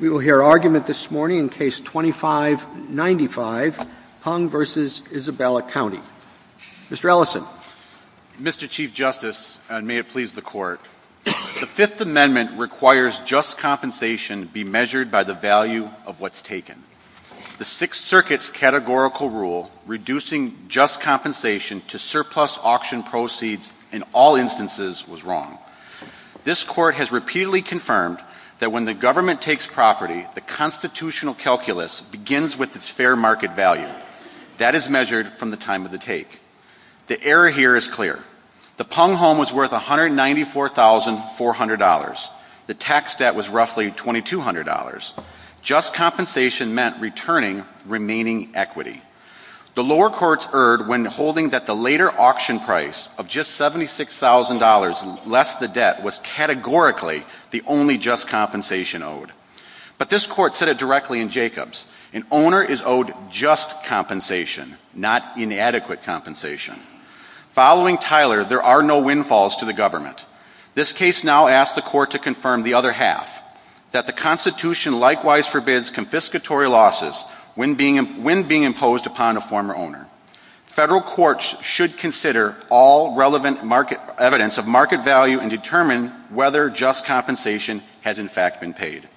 We will hear argument this morning in Case 25-95, Pung v. Isabella County. Mr. Ellison. Mr. Chief Justice, and may it please the Court, the Fifth Amendment requires just compensation be measured by the value of what's taken. The Sixth Circuit's categorical rule reducing just compensation to surplus auction proceeds in all instances was wrong. This Court has repeatedly confirmed that when the government takes property, the constitutional calculus begins with its fair market value. That is measured from the time of the take. The error here is clear. The Pung home was worth $194,400. The tax debt was roughly $2,200. Just compensation meant returning remaining equity. The lower courts erred when holding that the later auction price of just $76,000 less the debt was categorically the only just compensation owed. But this Court said it directly in Jacobs. An owner is owed just compensation, not inadequate compensation. Following Tyler, there are no windfalls to the government. This case now asks the Court to confirm the other half, that the Constitution likewise forbids confiscatory losses when being imposed upon a former owner. Federal courts should consider all relevant evidence of market value and determine whether just compensation has in fact been paid.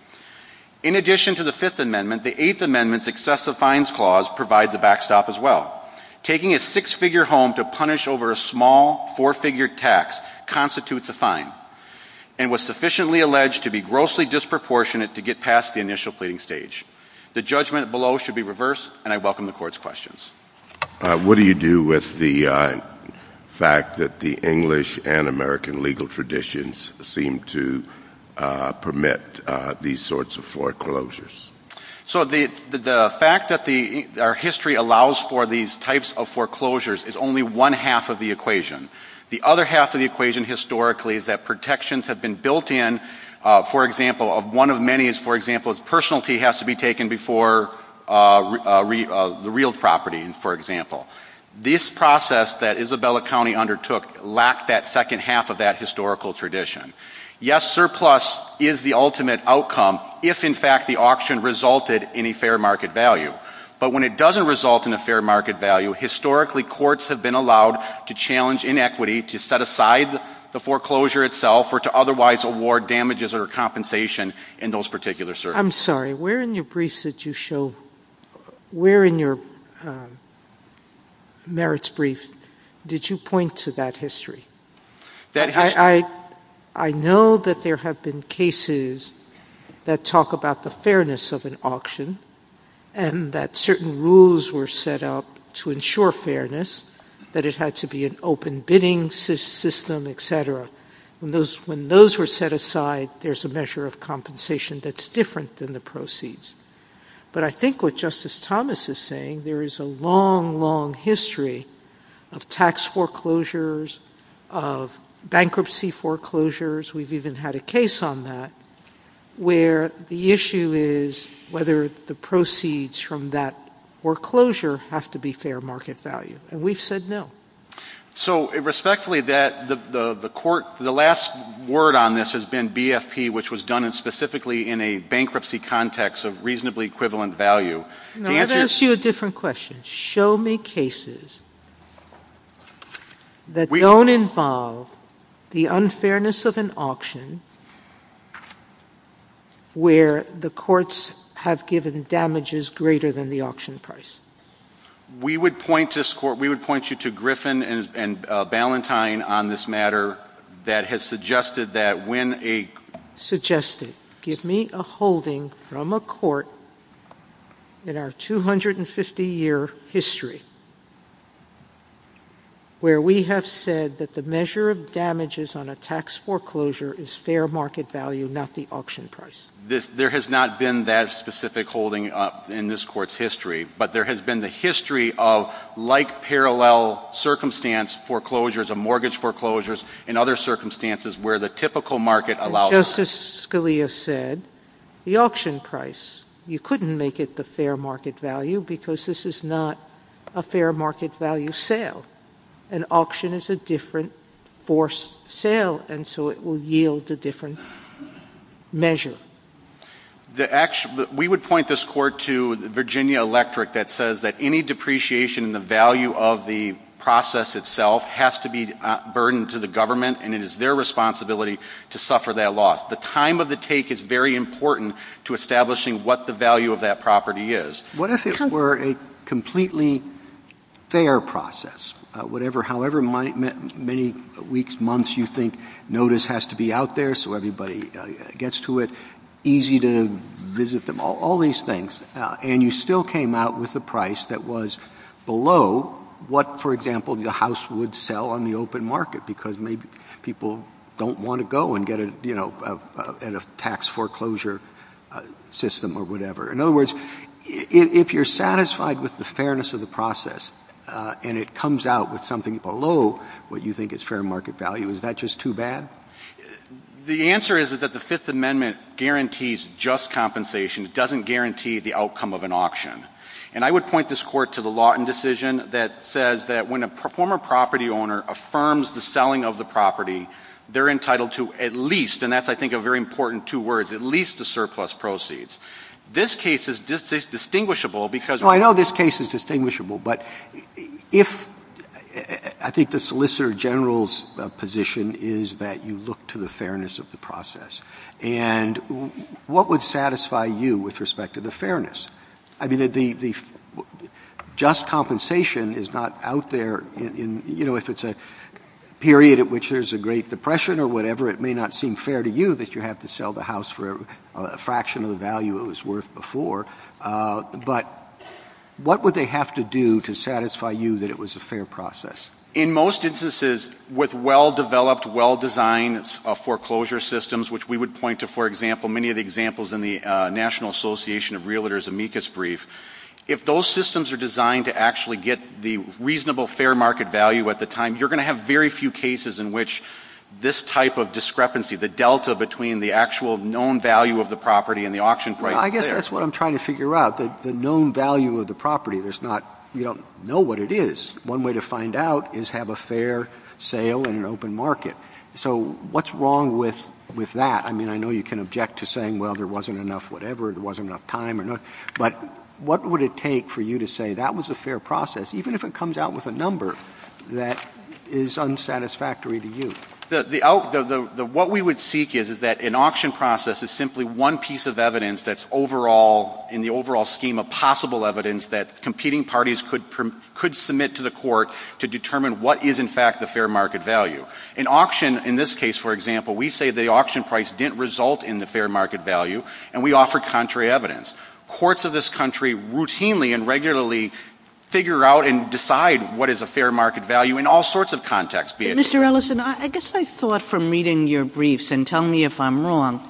In addition to the Fifth Amendment, the Eighth Amendment's excessive fines clause provides a backstop as well. Taking a six-figure home to punish over a small four-figure tax constitutes a fine. And was sufficiently alleged to be grossly disproportionate to get past the initial pleading stage. The judgment below should be reversed, and I welcome the Court's questions. What do you do with the fact that the English and American legal traditions seem to permit these sorts of foreclosures? So the fact that our history allows for these types of foreclosures is only one half of the equation. The other half of the equation, historically, is that protections have been built in. For example, one of many is, for example, that personality has to be taken before the real property, for example. This process that Isabella County undertook lacked that second half of that historical tradition. Yes, surplus is the ultimate outcome if, in fact, the auction resulted in a fair market value. But when it doesn't result in a fair market value, historically, courts have been allowed to challenge inequity, to set aside the foreclosure itself, or to otherwise award damages or compensation in those particular circumstances. I'm sorry. Where in your merits brief did you point to that history? I know that there have been cases that talk about the fairness of an auction, and that certain rules were set up to ensure fairness, that it had to be an open bidding system, etc. When those were set aside, there's a measure of compensation that's different than the proceeds. But I think what Justice Thomas is saying, there is a long, long history of tax foreclosures, of bankruptcy foreclosures, we've even had a case on that, where the issue is whether the proceeds from that foreclosure have to be fair market value. And we've said no. So respectfully, the last word on this has been BFP, which was done specifically in a bankruptcy context of reasonably equivalent value. Now, I've asked you a different question. Show me cases that don't involve the unfairness of an auction, where the courts have given damages greater than the auction price. We would point you to Griffin and Ballantyne on this matter, that has suggested that when a... ...suggested, give me a holding from a court in our 250-year history, where we have said that the measure of damages on a tax foreclosure is fair market value, not the auction price. There has not been that specific holding in this Court's history, but there has been the history of like parallel circumstance foreclosures, of mortgage foreclosures and other circumstances where the typical market allows... As Justice Scalia said, the auction price, you couldn't make it the fair market value because this is not a fair market value sale. An auction is a different forced sale, and so it will yield a different measure. We would point this Court to Virginia Electric, that says that any depreciation in the value of the process itself has to be a burden to the government, and it is their responsibility to suffer that loss. The time of the take is very important to establishing what the value of that property is. What if it were a completely fair process, however many weeks, months you think notice has to be out there so everybody gets to it, easy to visit them, all these things, and you still came out with a price that was below what, for example, the House would sell on the open market because maybe people don't want to go and get a tax foreclosure system or whatever. In other words, if you're satisfied with the fairness of the process and it comes out with something below what you think is fair market value, is that just too bad? The answer is that the Fifth Amendment guarantees just compensation. It doesn't guarantee the outcome of an auction. And I would point this Court to the Lawton decision that says that when a former property owner affirms the selling of the property, they're entitled to at least, and that's, I think, a very important two words, at least the surplus proceeds. This case is distinguishable because- Well, I know this case is distinguishable, but I think the Solicitor General's position is that you look to the fairness of the process. And what would satisfy you with respect to the fairness? I mean, the just compensation is not out there. If it's a period at which there's a Great Depression or whatever, it may not seem fair to you that you have to sell the house for a fraction of the value it was worth before. But what would they have to do to satisfy you that it was a fair process? In most instances, with well-developed, well-designed foreclosure systems, which we would point to, for example, many of the examples in the National Association of Realtors' amicus brief, if those systems are designed to actually get the reasonable fair market value at the time, you're going to have very few cases in which this type of discrepancy, the delta between the actual known value of the property and the auction price- Well, I guess that's what I'm trying to figure out, the known value of the property. You don't know what it is. One way to find out is have a fair sale in an open market. So what's wrong with that? I mean, I know you can object to saying, well, there wasn't enough whatever, there wasn't enough time. But what would it take for you to say that was a fair process, even if it comes out with a number that is unsatisfactory to you? What we would seek is that an auction process is simply one piece of evidence that's overall, in the overall scheme of possible evidence that competing parties could submit to the court to determine what is in fact the fair market value. In auction, in this case, for example, we say the auction price didn't result in the fair market value, and we offer contrary evidence. Courts of this country routinely and regularly figure out and decide what is a fair market value in all sorts of contexts. Mr. Ellison, I guess I thought from reading your briefs, and tell me if I'm wrong,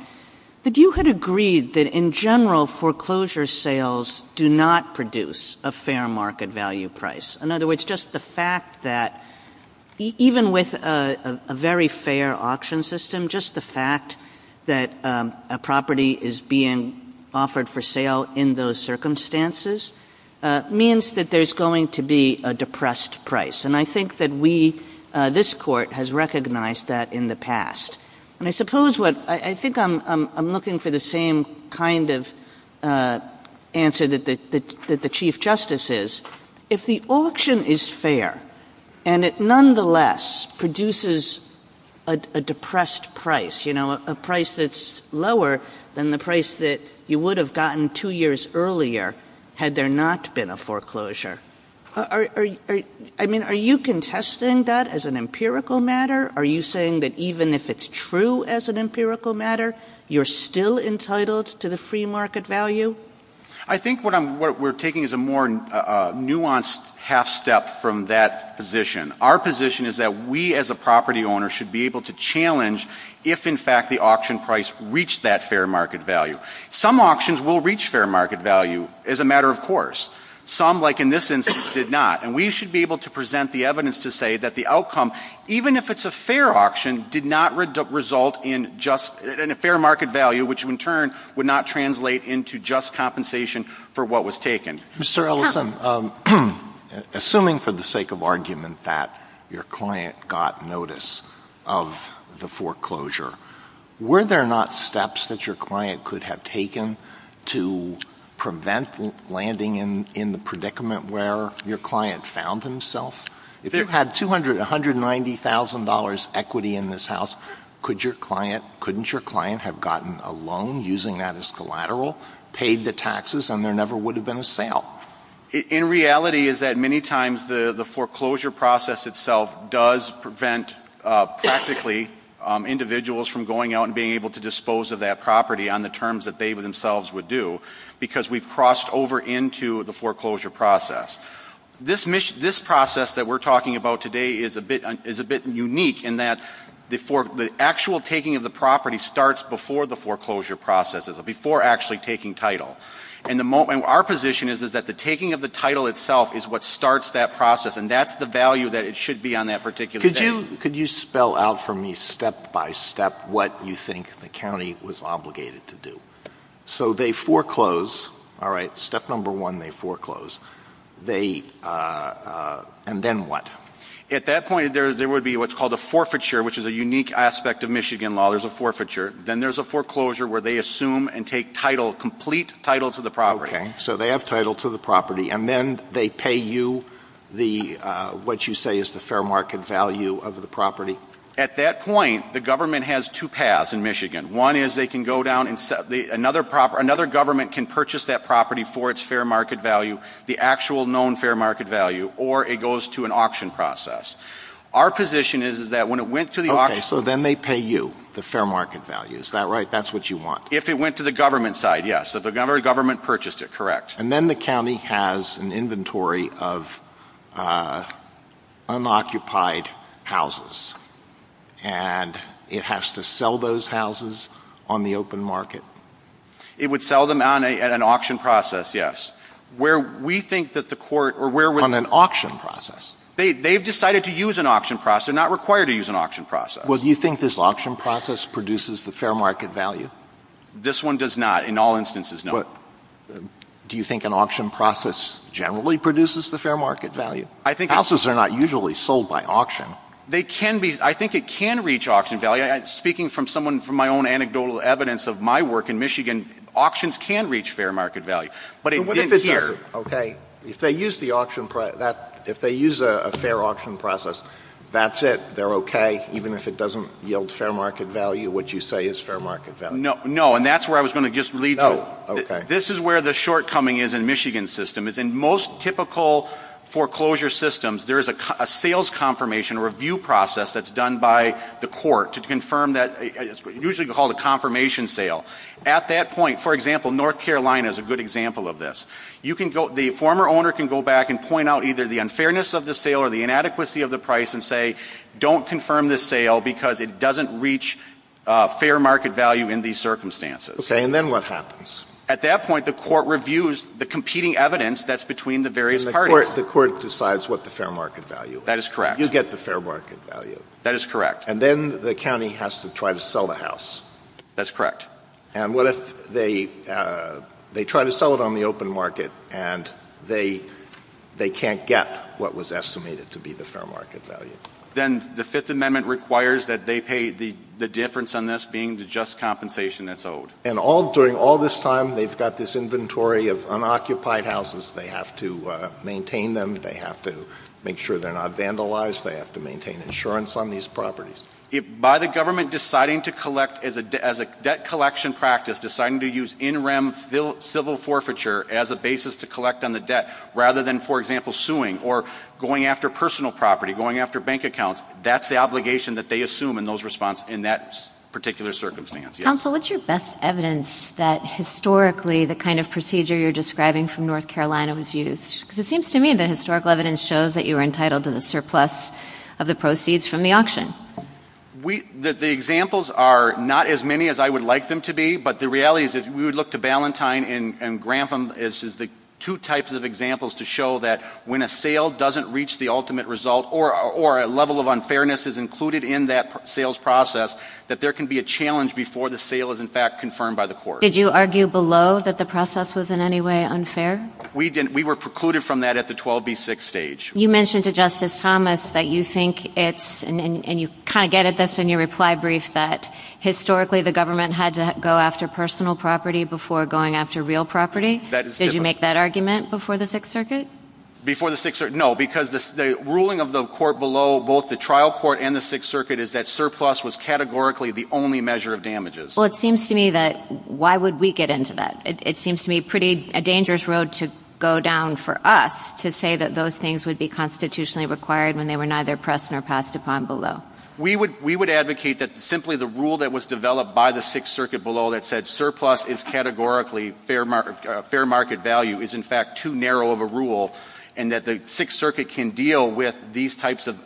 that you had agreed that in general foreclosure sales do not produce a fair market value price. In other words, just the fact that even with a very fair auction system, just the fact that a property is being offered for sale in those circumstances means that there's going to be a depressed price. And I think that we, this Court, has recognized that in the past. And I suppose what, I think I'm looking for the same kind of answer that the Chief Justice is. If the auction is fair, and it nonetheless produces a depressed price, you know, a price that's lower than the price that you would have gotten two years earlier had there not been a foreclosure, I mean, are you contesting that as an empirical matter? Are you saying that even if it's true as an empirical matter, you're still entitled to the free market value? I think what we're taking is a more nuanced half-step from that position. Our position is that we as a property owner should be able to challenge if, in fact, the auction price reached that fair market value. Some auctions will reach fair market value as a matter of course. Some, like in this instance, did not. And we should be able to present the evidence to say that the outcome, even if it's a fair auction, did not result in a fair market value, which in turn would not translate into just compensation for what was taken. Mr. Ellison, assuming for the sake of argument that your client got notice of the foreclosure, were there not steps that your client could have taken to prevent landing in the predicament where your client found himself? If you had $200,000, $190,000 equity in this house, couldn't your client have gotten a loan using that as collateral, paid the taxes, and there never would have been a sale? In reality is that many times the foreclosure process itself does prevent practically individuals from going out and being able to dispose of that property on the terms that they themselves would do because we've crossed over into the foreclosure process. This process that we're talking about today is a bit unique in that the actual taking of the property starts before the foreclosure process, before actually taking title. Our position is that the taking of the title itself is what starts that process, and that's the value that it should be on that particular day. Could you spell out for me step-by-step what you think the county was obligated to do? So they foreclose. Step number one, they foreclose. And then what? At that point there would be what's called a forfeiture, which is a unique aspect of Michigan law. There's a forfeiture. Then there's a foreclosure where they assume and take title, complete title to the property. Okay. So they have title to the property. And then they pay you what you say is the fair market value of the property? At that point the government has two paths in Michigan. One is they can go down and another government can purchase that property for its fair market value, the actual known fair market value, or it goes to an auction process. Our position is that when it went to the auction— If it went to the government side, yes. If the government purchased it, correct. And then the county has an inventory of unoccupied houses, and it has to sell those houses on the open market? It would sell them on an auction process, yes. On an auction process? They've decided to use an auction process. They're not required to use an auction process. Well, do you think this auction process produces the fair market value? This one does not in all instances, no. Do you think an auction process generally produces the fair market value? Houses are not usually sold by auction. I think it can reach auction value. Speaking from my own anecdotal evidence of my work in Michigan, auctions can reach fair market value. If they use a fair auction process, that's it? They're okay, even if it doesn't yield fair market value? What you say is fair market value? No, and that's where I was going to just leave you. This is where the shortcoming is in the Michigan system. In most typical foreclosure systems, there is a sales confirmation or review process that's done by the court to confirm that. It's usually called a confirmation sale. For example, North Carolina is a good example of this. The former owner can go back and point out either the unfairness of the sale or the inadequacy of the price and say, don't confirm this sale because it doesn't reach fair market value in these circumstances. Okay, and then what happens? At that point, the court reviews the competing evidence that's between the various parties. The court decides what the fair market value is. That is correct. You get the fair market value. That is correct. And then the county has to try to sell the house. That's correct. And what if they try to sell it on the open market and they can't get what was estimated to be the fair market value? Then the Fifth Amendment requires that they pay the difference on this being the just compensation that's owed. And during all this time, they've got this inventory of unoccupied houses. They have to maintain them. They have to make sure they're not vandalized. They have to maintain insurance on these properties. By the government deciding to collect as a debt collection practice, deciding to use interim civil forfeiture as a basis to collect on the debt, rather than, for example, suing or going after personal property, going after bank accounts, that's the obligation that they assume in that particular circumstance. Counsel, what's your best evidence that historically the kind of procedure you're describing from North Carolina was used? Because it seems to me that historical evidence shows that you were entitled to the surplus of the proceeds from the auction. The examples are not as many as I would like them to be, but the reality is if we would look to Ballantyne and Grantham as the two types of examples to show that when a sale doesn't reach the ultimate result or a level of unfairness is included in that sales process, that there can be a challenge before the sale is, in fact, confirmed by the court. Did you argue below that the process was in any way unfair? We were precluded from that at the 12B6 stage. You mentioned to Justice Thomas that you think it's, and you kind of get at this in your reply brief, that historically the government had to go after personal property before going after real property. Did you make that argument before the Sixth Circuit? No, because the ruling of the court below, both the trial court and the Sixth Circuit, is that surplus was categorically the only measure of damages. Well, it seems to me that why would we get into that? It seems to me a pretty dangerous road to go down for us to say that those things would be constitutionally required when they were neither pressed nor passed upon below. We would advocate that simply the rule that was developed by the Sixth Circuit below that said surplus is categorically fair market value is, in fact, too narrow of a rule and that the Sixth Circuit can deal with these types of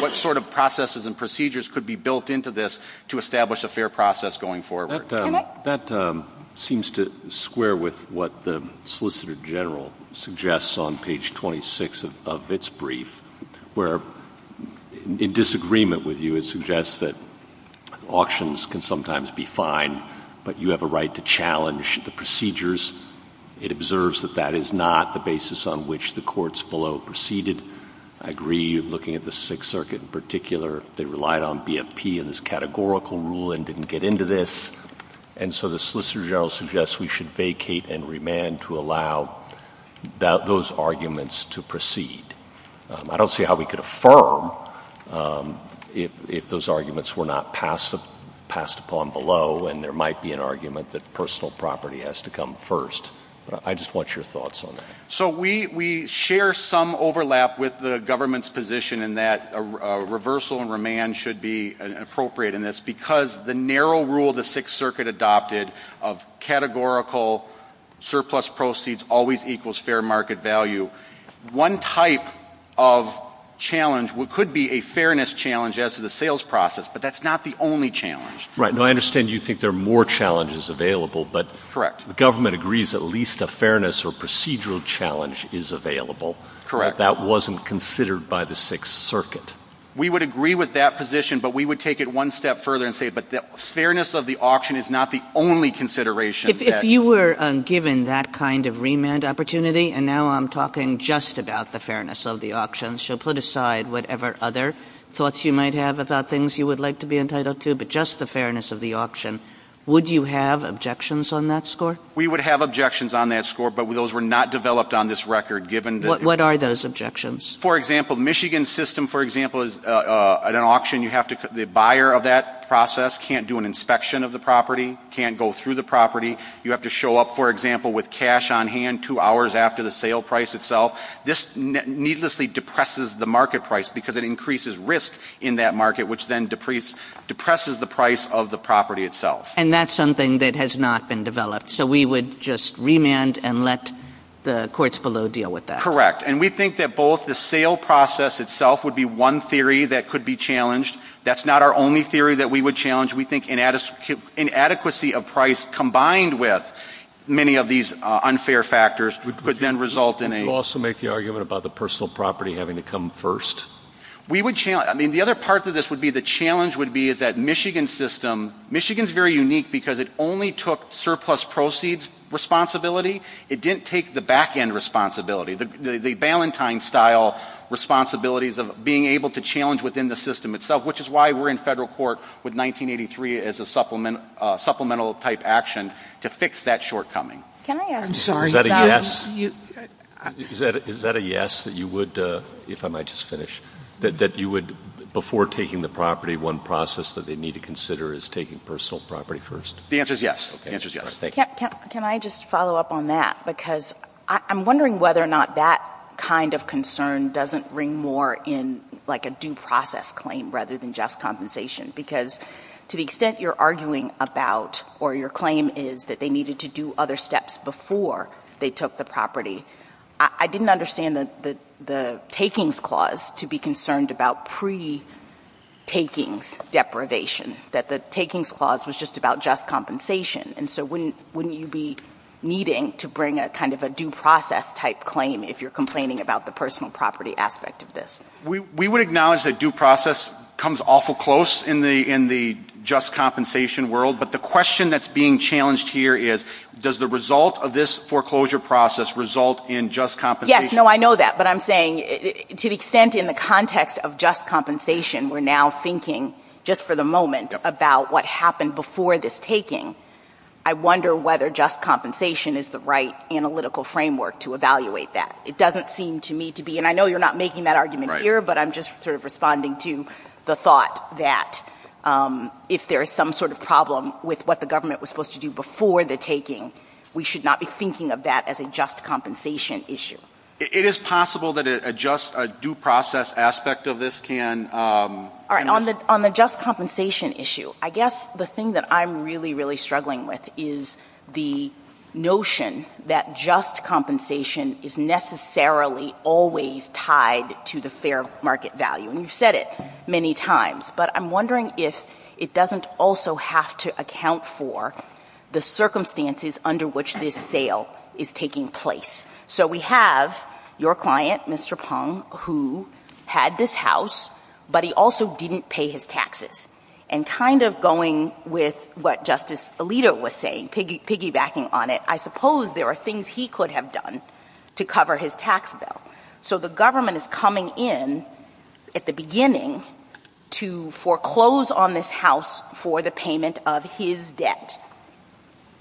what sort of processes and procedures could be built into this to establish a fair process going forward. That seems to square with what the Solicitor General suggests on page 26 of its brief, where in disagreement with you it suggests that auctions can sometimes be fine, but you have a right to challenge the procedures. It observes that that is not the basis on which the courts below proceeded. I agree, looking at the Sixth Circuit in particular, they relied on BFP in this categorical rule and didn't get into this, and so the Solicitor General suggests we should vacate and remand to allow those arguments to proceed. I don't see how we could affirm if those arguments were not passed upon below and there might be an argument that personal property has to come first. I just want your thoughts on that. So we share some overlap with the government's position in that a reversal and remand should be appropriate in this because the narrow rule the Sixth Circuit adopted of categorical surplus proceeds always equals fair market value. One type of challenge could be a fairness challenge as to the sales process, but that's not the only challenge. Right. And I understand you think there are more challenges available. Correct. The government agrees at least a fairness or procedural challenge is available. Correct. But that wasn't considered by the Sixth Circuit. We would agree with that position, but we would take it one step further and say that fairness of the auction is not the only consideration. If you were given that kind of remand opportunity, and now I'm talking just about the fairness of the auction, so put aside whatever other thoughts you might have about things you would like to be entitled to, but just the fairness of the auction, would you have objections on that score? We would have objections on that score, but those were not developed on this record. What are those objections? For example, Michigan's system, for example, at an auction, the buyer of that process can't do an inspection of the property, can't go through the property. You have to show up, for example, with cash on hand two hours after the sale price itself. This needlessly depresses the market price because it increases risk in that market, which then depresses the price of the property itself. And that's something that has not been developed. So we would just remand and let the courts below deal with that? And we think that both the sale process itself would be one theory that could be challenged. That's not our only theory that we would challenge. We think inadequacy of price combined with many of these unfair factors could then result in a – Would you also make the argument about the personal property having to come first? I mean, the other part of this would be the challenge would be that Michigan's system – Michigan's very unique because it only took surplus proceeds responsibility. It didn't take the back-end responsibility, the Valentine-style responsibilities of being able to challenge within the system itself, which is why we're in federal court with 1983 as a supplemental-type action to fix that shortcoming. Is that a yes? Is that a yes, that you would, if I might just finish, that you would, before taking the property, one process that they need to consider is taking personal property first? The answer is yes. Can I just follow up on that? Because I'm wondering whether or not that kind of concern doesn't ring more in like a due process claim rather than just compensation because to the extent you're arguing about or your claim is that they needed to do other steps before they took the property, I didn't understand the takings clause to be concerned about pre-takings deprivation, that the takings clause was just about just compensation. And so wouldn't you be needing to bring a kind of a due process-type claim if you're complaining about the personal property aspect of this? We would acknowledge that due process comes awful close in the just compensation world, but the question that's being challenged here is does the result of this foreclosure process result in just compensation? Yes, no, I know that, but I'm saying to the extent in the context of just compensation we're now thinking just for the moment about what happened before this taking, I wonder whether just compensation is the right analytical framework to evaluate that. It doesn't seem to me to be, and I know you're not making that argument here, but I'm just sort of responding to the thought that if there is some sort of problem with what the government was supposed to do before the taking, we should not be thinking of that as a just compensation issue. It is possible that a just due process aspect of this can- All right, on the just compensation issue, I guess the thing that I'm really, really struggling with is the notion that just compensation is necessarily always tied to the fair market value, and you've said it many times, but I'm wondering if it doesn't also have to account for the circumstances under which this sale is taking place. So we have your client, Mr. Pong, who had this house, but he also didn't pay his taxes, and kind of going with what Justice Alito was saying, piggybacking on it, I suppose there are things he could have done to cover his tax bill. So the government is coming in at the beginning to foreclose on this house for the payment of his debt.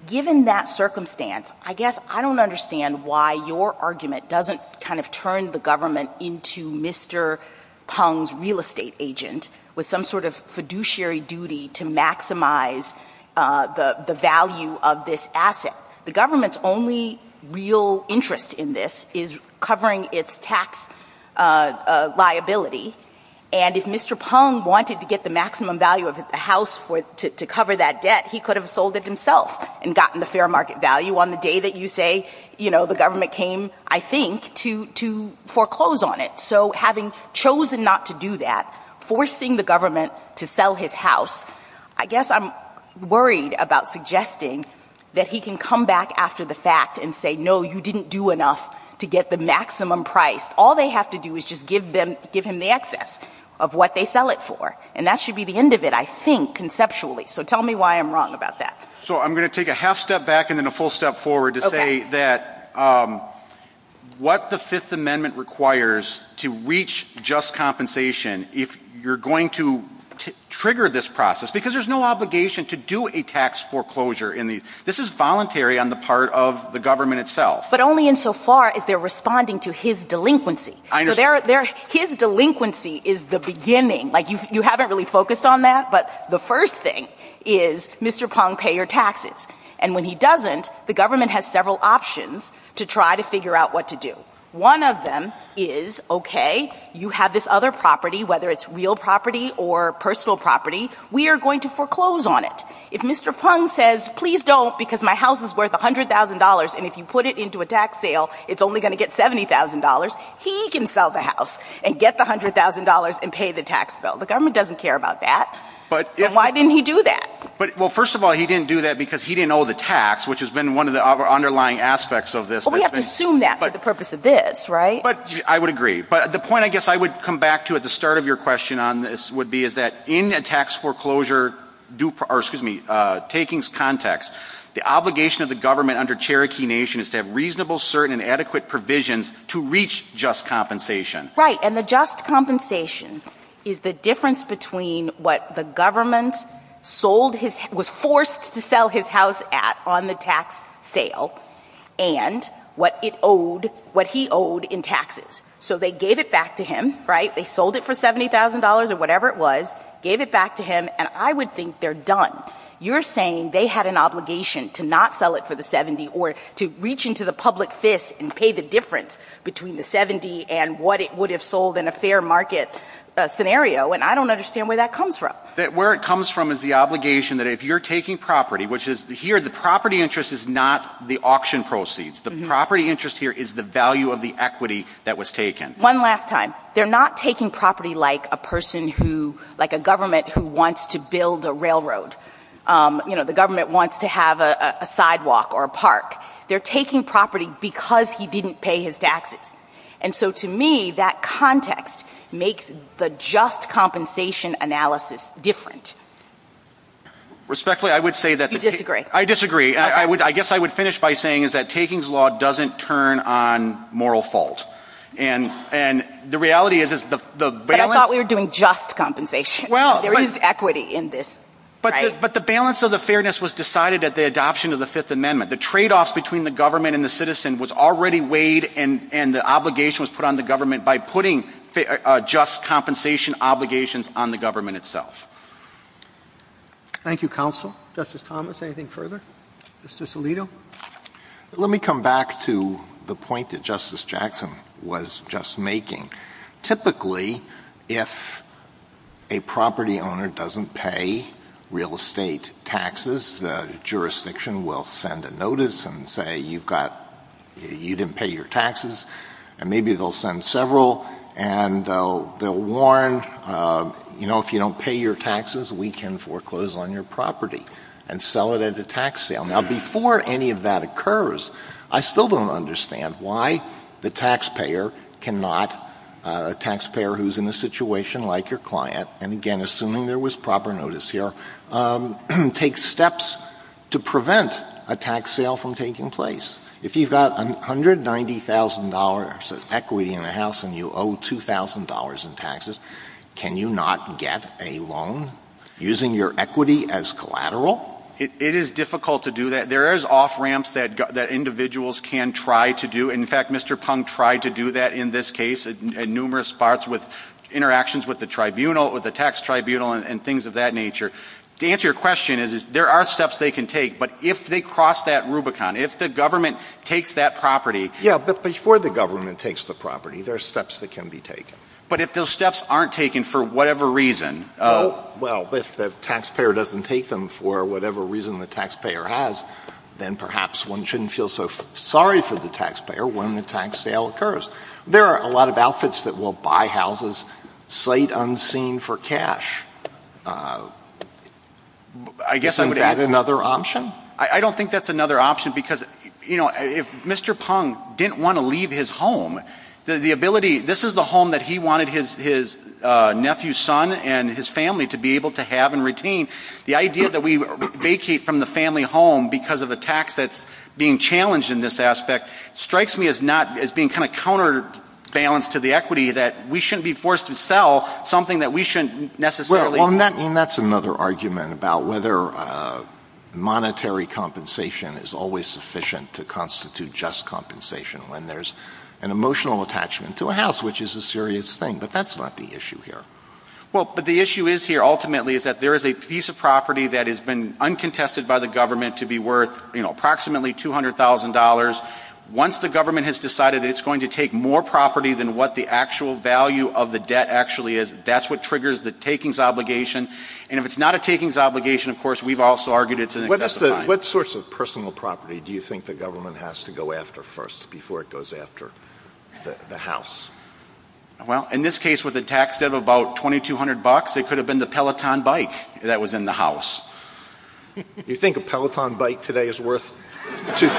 Given that circumstance, I guess I don't understand why your argument doesn't kind of turn the government into Mr. Pong's real estate agent with some sort of fiduciary duty to maximize the value of this asset. The government's only real interest in this is covering its tax liability, and if Mr. Pong wanted to get the maximum value of the house to cover that debt, he could have sold it himself and gotten the fair market value on the day that you say, the government came, I think, to foreclose on it. So having chosen not to do that, forcing the government to sell his house, I guess I'm worried about suggesting that he can come back after the fact and say, no, you didn't do enough to get the maximum price. All they have to do is just give him the excess of what they sell it for, and that should be the end of it, I think, conceptually. So tell me why I'm wrong about that. So I'm going to take a half step back and then a full step forward to say that what the Fifth Amendment requires to reach just compensation, if you're going to trigger this process, because there's no obligation to do a tax foreclosure. This is voluntary on the part of the government itself. But only insofar as they're responding to his delinquency. So his delinquency is the beginning. You haven't really focused on that, but the first thing is Mr. Pong, pay your taxes. And when he doesn't, the government has several options to try to figure out what to do. One of them is, okay, you have this other property, whether it's real property or personal property, we are going to foreclose on it. If Mr. Pong says, please don't because my house is worth $100,000 and if you put it into a tax sale, it's only going to get $70,000, he can sell the house and get the $100,000 and pay the tax bill. The government doesn't care about that. Why didn't he do that? Well, first of all, he didn't do that because he didn't owe the tax, which has been one of the underlying aspects of this. Well, we have to assume that for the purpose of this, right? I would agree. But the point I guess I would come back to at the start of your question on this would be is that in a tax foreclosure takings context, the obligation of the government under Cherokee Nation is to have reasonable, certain, and adequate provisions to reach just compensation. Right. And the just compensation is the difference between what the government was forced to sell his house at on the tax sale and what he owed in taxes. So they gave it back to him, right? They sold it for $70,000 or whatever it was, gave it back to him, and I would think they're done. You're saying they had an obligation to not sell it for the $70,000 or to reach into the public fist and pay the difference between the $70,000 and what it would have sold in a fair market scenario, and I don't understand where that comes from. Where it comes from is the obligation that if you're taking property, which is here the property interest is not the auction proceeds. The property interest here is the value of the equity that was taken. One last time. They're not taking property like a government who wants to build a railroad. You know, the government wants to have a sidewalk or a park. They're taking property because he didn't pay his taxes. And so, to me, that context makes the just compensation analysis different. Respectfully, I would say that the takings law doesn't turn on moral fault. And the reality is the balance. I thought we were doing just compensation. There is equity in this. But the balance of the fairness was decided at the adoption of the Fifth Amendment. The tradeoff between the government and the citizen was already weighed and the obligation was put on the government by putting just compensation obligations on the government itself. Thank you, Counsel. Justice Thomas, anything further? Justice Alito? Let me come back to the point that Justice Jackson was just making. Typically, if a property owner doesn't pay real estate taxes, the jurisdiction will send a notice and say you didn't pay your taxes, and maybe they'll send several. And they'll warn, you know, if you don't pay your taxes, we can foreclose on your property and sell it at a tax sale. Now, before any of that occurs, I still don't understand why the taxpayer cannot, a taxpayer who's in a situation like your client, and again assuming there was proper notice here, take steps to prevent a tax sale from taking place. If you've got $190,000 of equity in the house and you owe $2,000 in taxes, can you not get a loan using your equity as collateral? It is difficult to do that. There is off-ramps that individuals can try to do. In fact, Mr. Punk tried to do that in this case in numerous parts with interactions with the tribunal, with the tax tribunal, and things of that nature. To answer your question, there are steps they can take, but if they cross that Rubicon, if the government takes that property. Yeah, but before the government takes the property, there are steps that can be taken. But if those steps aren't taken for whatever reason. Well, if the taxpayer doesn't take them for whatever reason the taxpayer has, then perhaps one shouldn't feel so sorry for the taxpayer when the tax sale occurs. There are a lot of outfits that will buy houses, slate unseen for cash. I guess I would add another option. I don't think that's another option because, you know, if Mr. Punk didn't want to leave his home, the ability, this is the home that he wanted his nephew's son and his family to be able to have and retain. The idea that we vacate from the family home because of the tax that's being challenged in this aspect strikes me as being kind of counterbalanced to the equity that we shouldn't be forced to sell something that we shouldn't necessarily want. And that's another argument about whether monetary compensation is always sufficient to constitute just compensation when there's an emotional attachment to a house, which is a serious thing. But that's not the issue here. Well, but the issue is here ultimately is that there is a piece of property that has been uncontested by the government to be worth approximately $200,000. Once the government has decided it's going to take more property than what the actual value of the debt actually is, that's what triggers the takings obligation. And if it's not a takings obligation, of course, we've also argued it's an investment. What sorts of personal property do you think the government has to go after first before it goes after the house? Well, in this case with a tax debt of about $2,200, it could have been the Peloton bike that was in the house. You think a Peloton bike today is worth $2,000?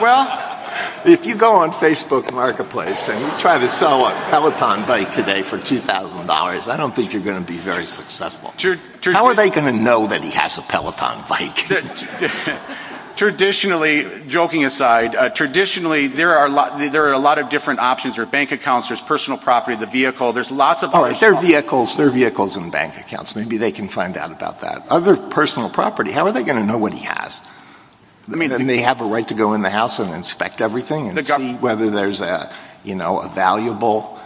Well, if you go on Facebook Marketplace and you try to sell a Peloton bike today for $2,000, I don't think you're going to be very successful. How are they going to know that he has a Peloton bike? Traditionally, joking aside, traditionally there are a lot of different options. There are bank accounts, there's personal property, the vehicle. There are vehicles and bank accounts. Maybe they can find out about that. Other than personal property, how are they going to know what he has? Don't they have a right to go in the house and inspect everything and see whether there's a valuable,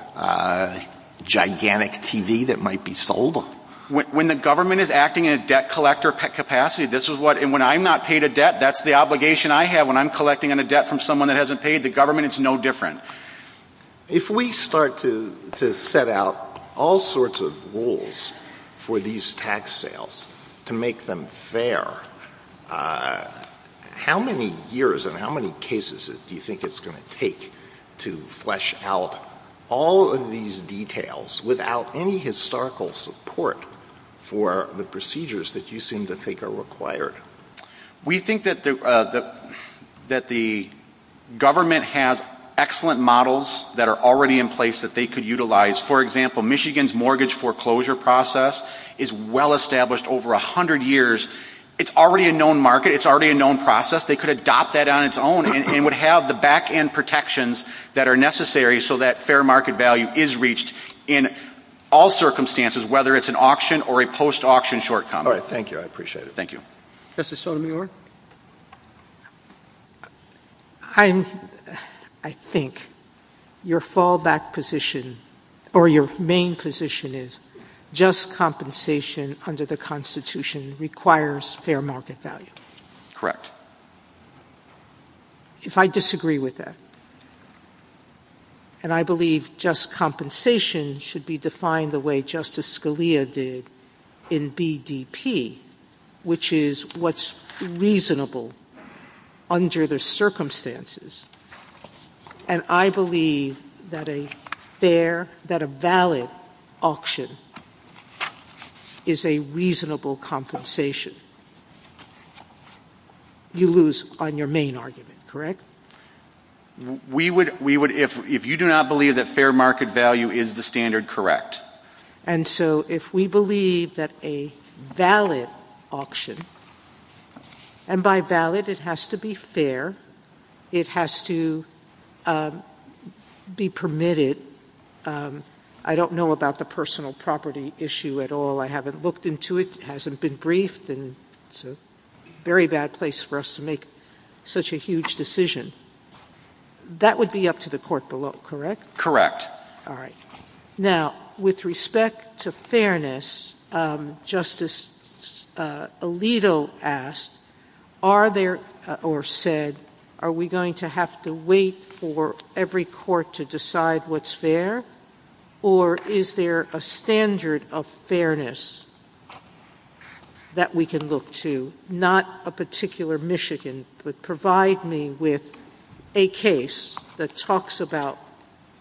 gigantic TV that might be sold? When the government is acting in a debt collector capacity, and when I'm not paid a debt, that's the obligation I have when I'm collecting a debt from someone that hasn't paid, the government is no different. If we start to set out all sorts of rules for these tax sales to make them fair, how many years and how many cases do you think it's going to take to flesh out all of these details without any historical support for the procedures that you seem to think are required? We think that the government has excellent models that are already in place that they could utilize. For example, Michigan's mortgage foreclosure process is well-established over 100 years. It's already a known market. It's already a known process. They could adopt that on its own and would have the back-end protections that are necessary so that fair market value is reached in all circumstances, whether it's an auction or a post-auction short-term. Thank you. I appreciate it. Thank you. Justice Sotomayor? I think your fallback position, or your main position, is just compensation under the Constitution requires fair market value. Correct. If I disagree with that, and I believe just compensation should be defined the way Justice Scalia did in BDP, which is what's reasonable under the circumstances. And I believe that a fair, that a valid auction is a reasonable compensation. You lose on your main argument, correct? If you do not believe that fair market value is the standard, correct. And so if we believe that a valid auction, and by valid it has to be fair, it has to be permitted. I don't know about the personal property issue at all. I haven't looked into it. It hasn't been briefed. It's a very bad place for us to make such a huge decision. That would be up to the court below, correct? Correct. All right. Now, with respect to fairness, Justice Alito asked, are there, or said, are we going to have to wait for every court to decide what's fair? Or is there a standard of fairness that we can look to? Not a particular Michigan, but provide me with a case that talks about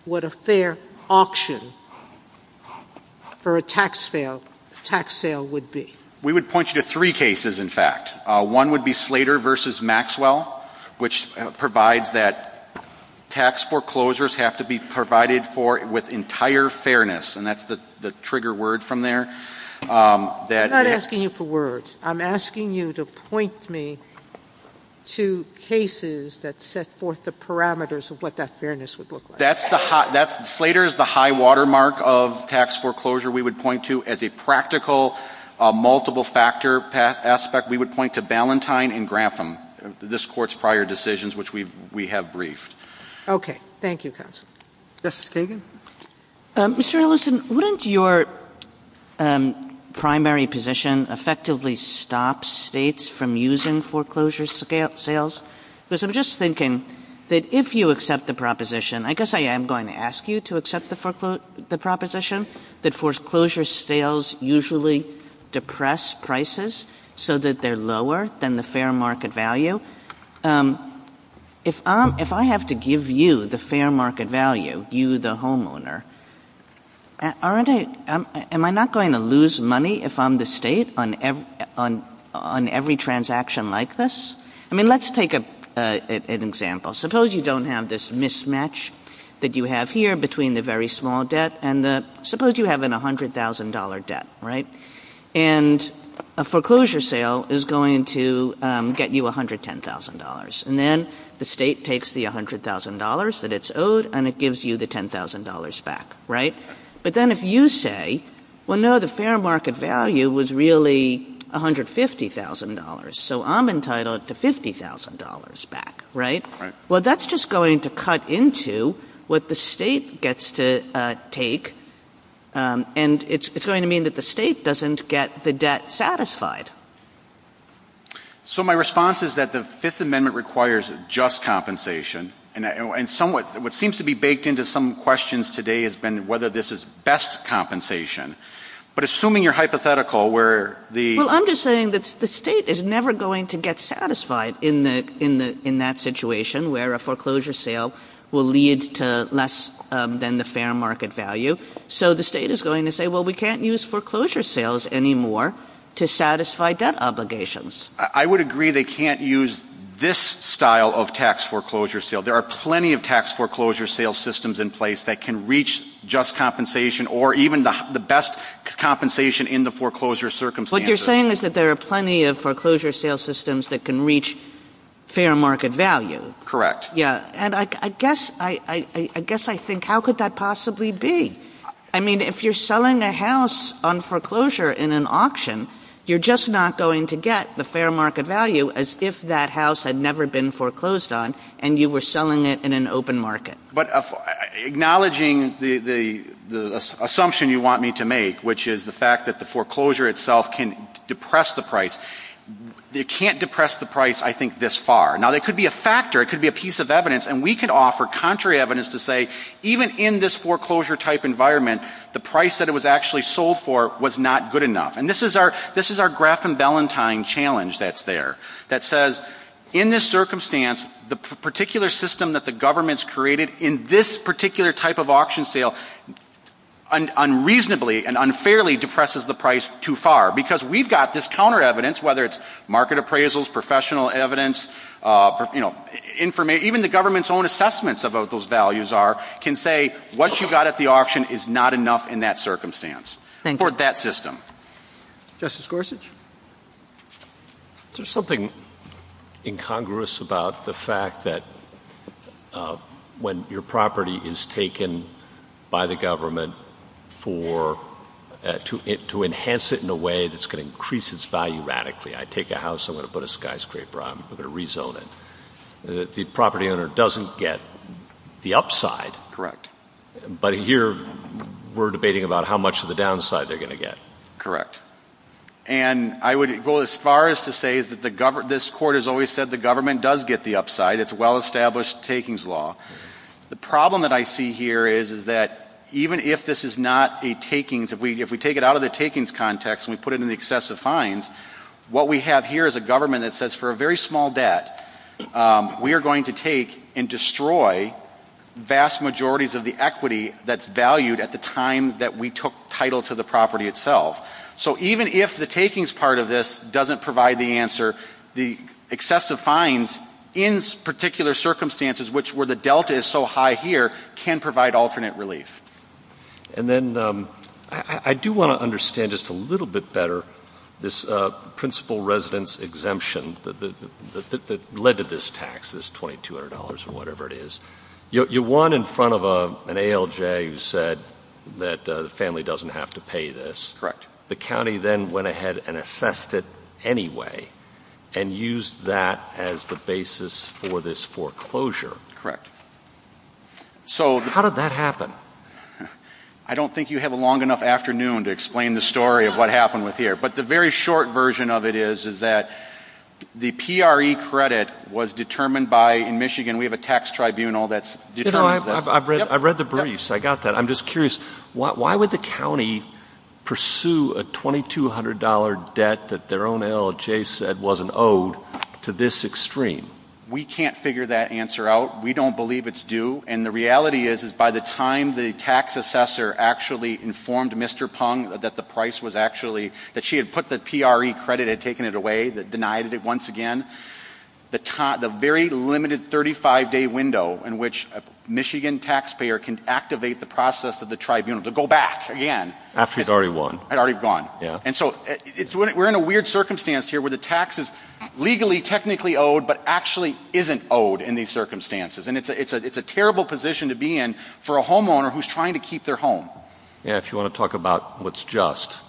what a fair auction for a tax sale would be. We would point you to three cases, in fact. One would be Slater v. Maxwell, which provides that tax foreclosures have to be provided with entire fairness. And that's the trigger word from there. I'm not asking you for words. I'm asking you to point me to cases that set forth the parameters of what that fairness would look like. Slater is the high-water mark of tax foreclosure. We would point you, as a practical, multiple-factor aspect, we would point to Ballantyne and Grantham, this Court's prior decisions, which we have briefed. Okay. Thank you, counsel. Justice Kagan? Mr. Ellison, wouldn't your primary position effectively stop states from using foreclosure sales? Because I'm just thinking that if you accept the proposition, I guess I am going to ask you to accept the proposition, that foreclosure sales usually depress prices so that they're lower than the fair market value. If I have to give you the fair market value, you the homeowner, am I not going to lose money if I'm the state on every transaction like this? I mean, let's take an example. Suppose you don't have this mismatch that you have here between the very small debt and the — suppose you have a $100,000 debt, right? And a foreclosure sale is going to get you $110,000. And then the state takes the $100,000 that it's owed, and it gives you the $10,000 back, right? But then if you say, well, no, the fair market value was really $150,000, so I'm entitled to $50,000 back, right? Well, that's just going to cut into what the state gets to take, and it's going to mean that the state doesn't get the debt satisfied. So my response is that the Fifth Amendment requires just compensation, and what seems to be baked into some questions today has been whether this is best compensation. But assuming you're hypothetical where the — Well, I'm just saying that the state is never going to get satisfied in that situation where a foreclosure sale will lead to less than the fair market value. So the state is going to say, well, we can't use foreclosure sales anymore to satisfy debt obligations. I would agree they can't use this style of tax foreclosure sale. There are plenty of tax foreclosure sale systems in place that can reach just compensation or even the best compensation in the foreclosure circumstances. What you're saying is that there are plenty of foreclosure sale systems that can reach fair market value. And I guess I think how could that possibly be? I mean, if you're selling a house on foreclosure in an auction, you're just not going to get the fair market value as if that house had never been foreclosed on and you were selling it in an open market. But acknowledging the assumption you want me to make, which is the fact that the foreclosure itself can depress the price, it can't depress the price, I think, this far. Now, that could be a factor. It could be a piece of evidence. And we can offer contrary evidence to say even in this foreclosure-type environment, the price that it was actually sold for was not good enough. And this is our graph and Valentine challenge that's there that says in this circumstance, the particular system that the government's created in this particular type of auction sale unreasonably and unfairly depresses the price, whether it's market appraisals, professional evidence, even the government's own assessments about what those values are can say what you got at the auction is not enough in that circumstance for that system. Justice Gorsuch? There's something incongruous about the fact that when your property is taken by the government to enhance it in a way that's going to increase its value radically, I take a house, I'm going to put a skyscraper on, I'm going to rezone it, the property owner doesn't get the upside. Correct. But here we're debating about how much of the downside they're going to get. Correct. And I would go as far as to say that this Court has always said the government does get the upside. It's a well-established takings law. The problem that I see here is that even if this is not a takings, if we take it out of the takings context and we put it in the excessive fines, what we have here is a government that says for a very small debt, we are going to take and destroy vast majorities of the equity that's valued at the time that we took title to the property itself. So even if the takings part of this doesn't provide the answer, the excessive fines in particular circumstances, which where the delta is so high here, can provide alternate relief. And then I do want to understand just a little bit better this principal residence exemption that led to this tax, this $2,200 or whatever it is. You won in front of an ALJ who said that the family doesn't have to pay this. The county then went ahead and assessed it anyway and used that as the basis for this foreclosure. Correct. How did that happen? I don't think you have a long enough afternoon to explain the story of what happened with here. But the very short version of it is that the PRE credit was determined by, in Michigan we have a tax tribunal that's determined that. I've read the briefs. I got that. I'm just curious. Why would the county pursue a $2,200 debt that their own ALJ said wasn't owed to this extreme? We can't figure that answer out. We don't believe it's due. And the reality is, is by the time the tax assessor actually informed Mr. Pung that the price was actually, that she had put the PRE credit, had taken it away, denied it once again, the very limited 35-day window in which a Michigan taxpayer can activate the process of the tribunal to go back again. After it's already won. It's already won. And so we're in a weird circumstance here where the tax is legally, technically owed, but actually isn't owed in these circumstances. And it's a terrible position to be in for a homeowner who's trying to keep their home. Yeah, if you want to talk about what's just.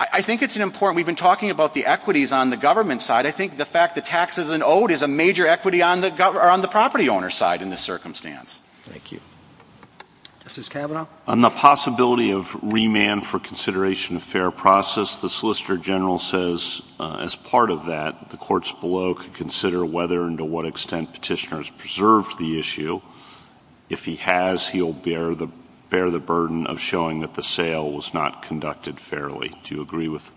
I think it's important. We've been talking about the equities on the government side. I think the fact that tax isn't owed is a major equity on the property owner's side in this circumstance. Thank you. Mrs. Kavanaugh? On the possibility of remand for consideration of fair process, the Solicitor General says, as part of that, the courts below could consider whether and to what extent petitioners preserved the issue. If he has, he'll bear the burden of showing that the sale was not conducted fairly. Do you agree with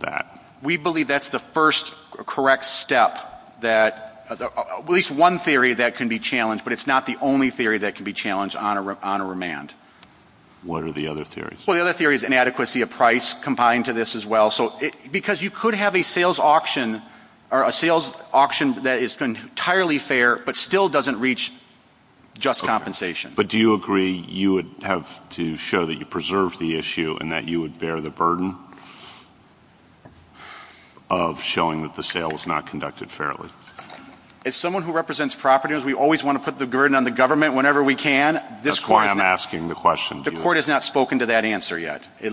that? We believe that's the first correct step that, at least one theory that can be challenged, but it's not the only theory that can be challenged on a remand. What are the other theories? The other theory is inadequacy of price combined to this as well. Because you could have a sales auction that is entirely fair, but still doesn't reach just compensation. But do you agree you would have to show that you preserved the issue and that you would bear the burden of showing that the sale was not conducted fairly? As someone who represents property owners, we always want to put the burden on the government whenever we can. That's why I'm asking the question. The court has not spoken to that answer yet. You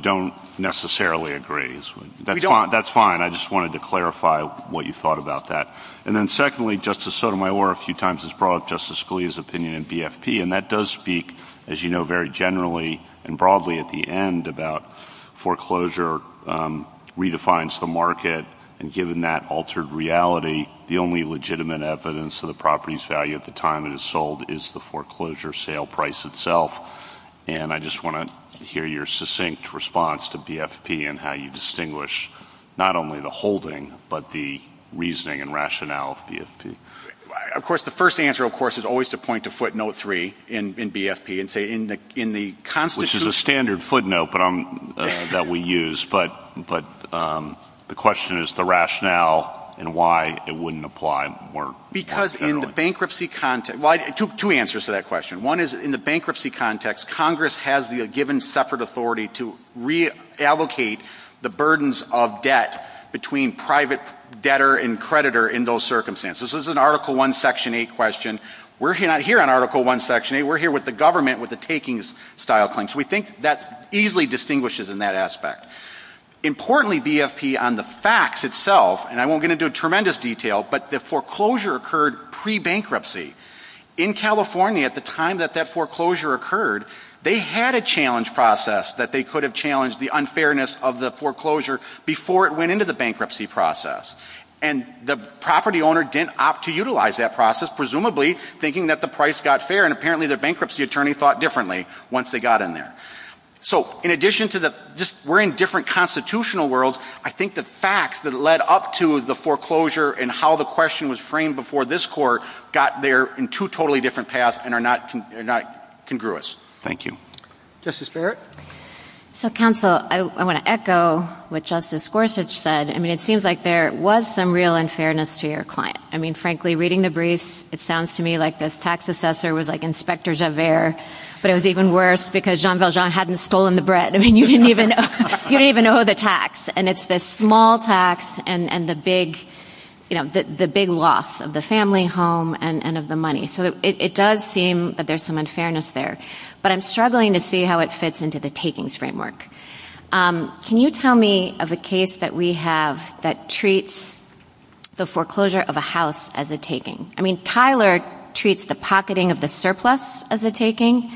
don't necessarily agree. That's fine. I just wanted to clarify what you thought about that. And then secondly, Justice Sotomayor, a few times as broad, Justice Scalia's opinion in BFP, and that does speak, as you know, very generally and broadly at the end about foreclosure redefines the market, and given that altered reality, the only legitimate evidence of the property's value at the time it was sold was the foreclosure sale price itself. And I just want to hear your succinct response to BFP and how you distinguish not only the holding, but the reasoning and rationale of BFP. Of course, the first answer, of course, is always to point to footnote three in BFP and say in the constitution. Which is a standard footnote that we use. But the question is the rationale and why it wouldn't apply more generally. Two answers to that question. One is in the bankruptcy context, Congress has a given separate authority to reallocate the burdens of debt between private debtor and creditor in those circumstances. This is an Article I, Section 8 question. We're not here on Article I, Section 8. We're here with the government with the takings style claim. So we think that easily distinguishes in that aspect. Importantly, BFP on the facts itself, and I won't get into tremendous detail, but the foreclosure occurred pre-bankruptcy. In California, at the time that that foreclosure occurred, they had a challenge process that they could have challenged the unfairness of the foreclosure before it went into the bankruptcy process. And the property owner didn't opt to utilize that process, presumably thinking that the price got fair, and apparently their bankruptcy attorney thought differently once they got in there. So in addition to the just we're in different constitutional worlds, I think the facts that led up to the foreclosure and how the question was framed before this court got there in two totally different paths and are not congruous. Thank you. Justice Barrett? Counsel, I want to echo what Justice Gorsuch said. I mean, it seems like there was some real unfairness to your client. I mean, frankly, reading the briefs, it sounds to me like this tax assessor was like Inspector Javert, but it was even worse because Jean Valjean hadn't stolen the bread. I mean, you didn't even owe the tax. And it's this small tax and the big loss of the family home and of the money. So it does seem that there's some unfairness there. But I'm struggling to see how it fits into the takings framework. Can you tell me of a case that we have that treats the foreclosure of a house as a taking? I mean, Tyler treats the pocketing of the surplus as a taking,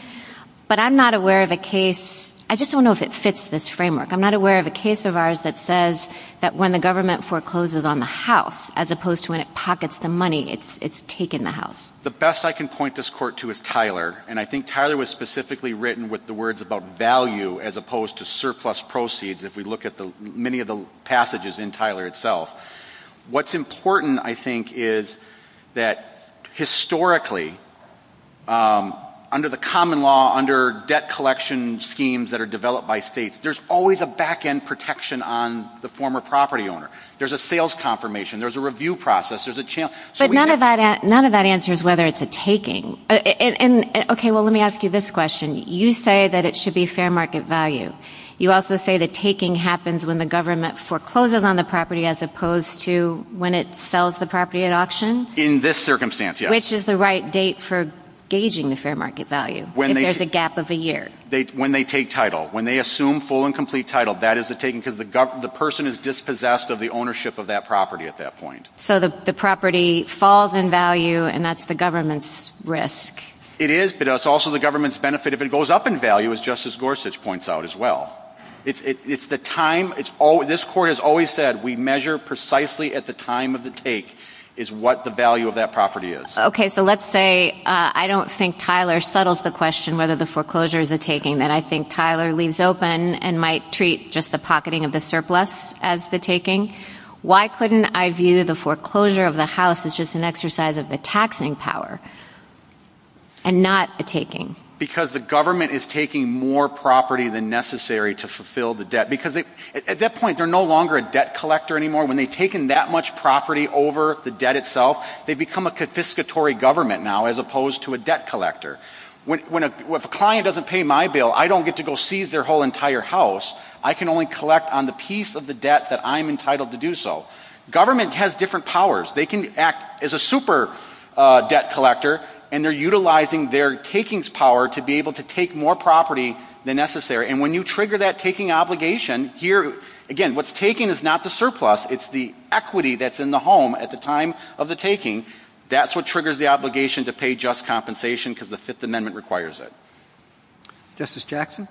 but I'm not aware of a case. I just don't know if it fits this framework. I'm not aware of a case of ours that says that when the government forecloses on the house as opposed to when it pockets the money, it's taking the house. The best I can point this court to is Tyler, and I think Tyler was specifically written with the words about value as opposed to surplus proceeds if we look at many of the passages in Tyler itself. What's important, I think, is that historically, under the common law, under debt collection schemes that are developed by states, there's always a back-end protection on the former property owner. There's a sales confirmation. There's a review process. But none of that answers whether it's a taking. Okay, well, let me ask you this question. You say that it should be fair market value. You also say that taking happens when the government forecloses on the property as opposed to when it sells the property at auction? In this circumstance, yes. Which is the right date for gauging the fair market value if there's a gap of a year? When they take title. When they assume full and complete title, that is a taking because the person is dispossessed of the ownership of that property at that point. So the property falls in value, and that's the government's risk. It is, but it's also the government's benefit if it goes up in value, as Justice Gorsuch points out as well. It's the time. This court has always said we measure precisely at the time of the take is what the value of that property is. Okay, so let's say I don't think Tyler settles the question whether the foreclosure is a taking. And I think Tyler leaves open and might treat just the pocketing of the surplus as the taking. Why couldn't I view the foreclosure of the house as just an exercise of the taxing power and not the taking? Because the government is taking more property than necessary to fulfill the debt. Because at that point, they're no longer a debt collector anymore. When they've taken that much property over the debt itself, they become a confiscatory government now as opposed to a debt collector. If a client doesn't pay my bill, I don't get to go seize their whole entire house. I can only collect on the piece of the debt that I'm entitled to do so. Government has different powers. They can act as a super debt collector, and they're utilizing their takings power to be able to take more property than necessary. And when you trigger that taking obligation, here, again, what's taking is not the surplus. It's the equity that's in the home at the time of the taking. That's what triggers the obligation to pay just compensation because the Fifth Amendment requires it. Justice Jackson?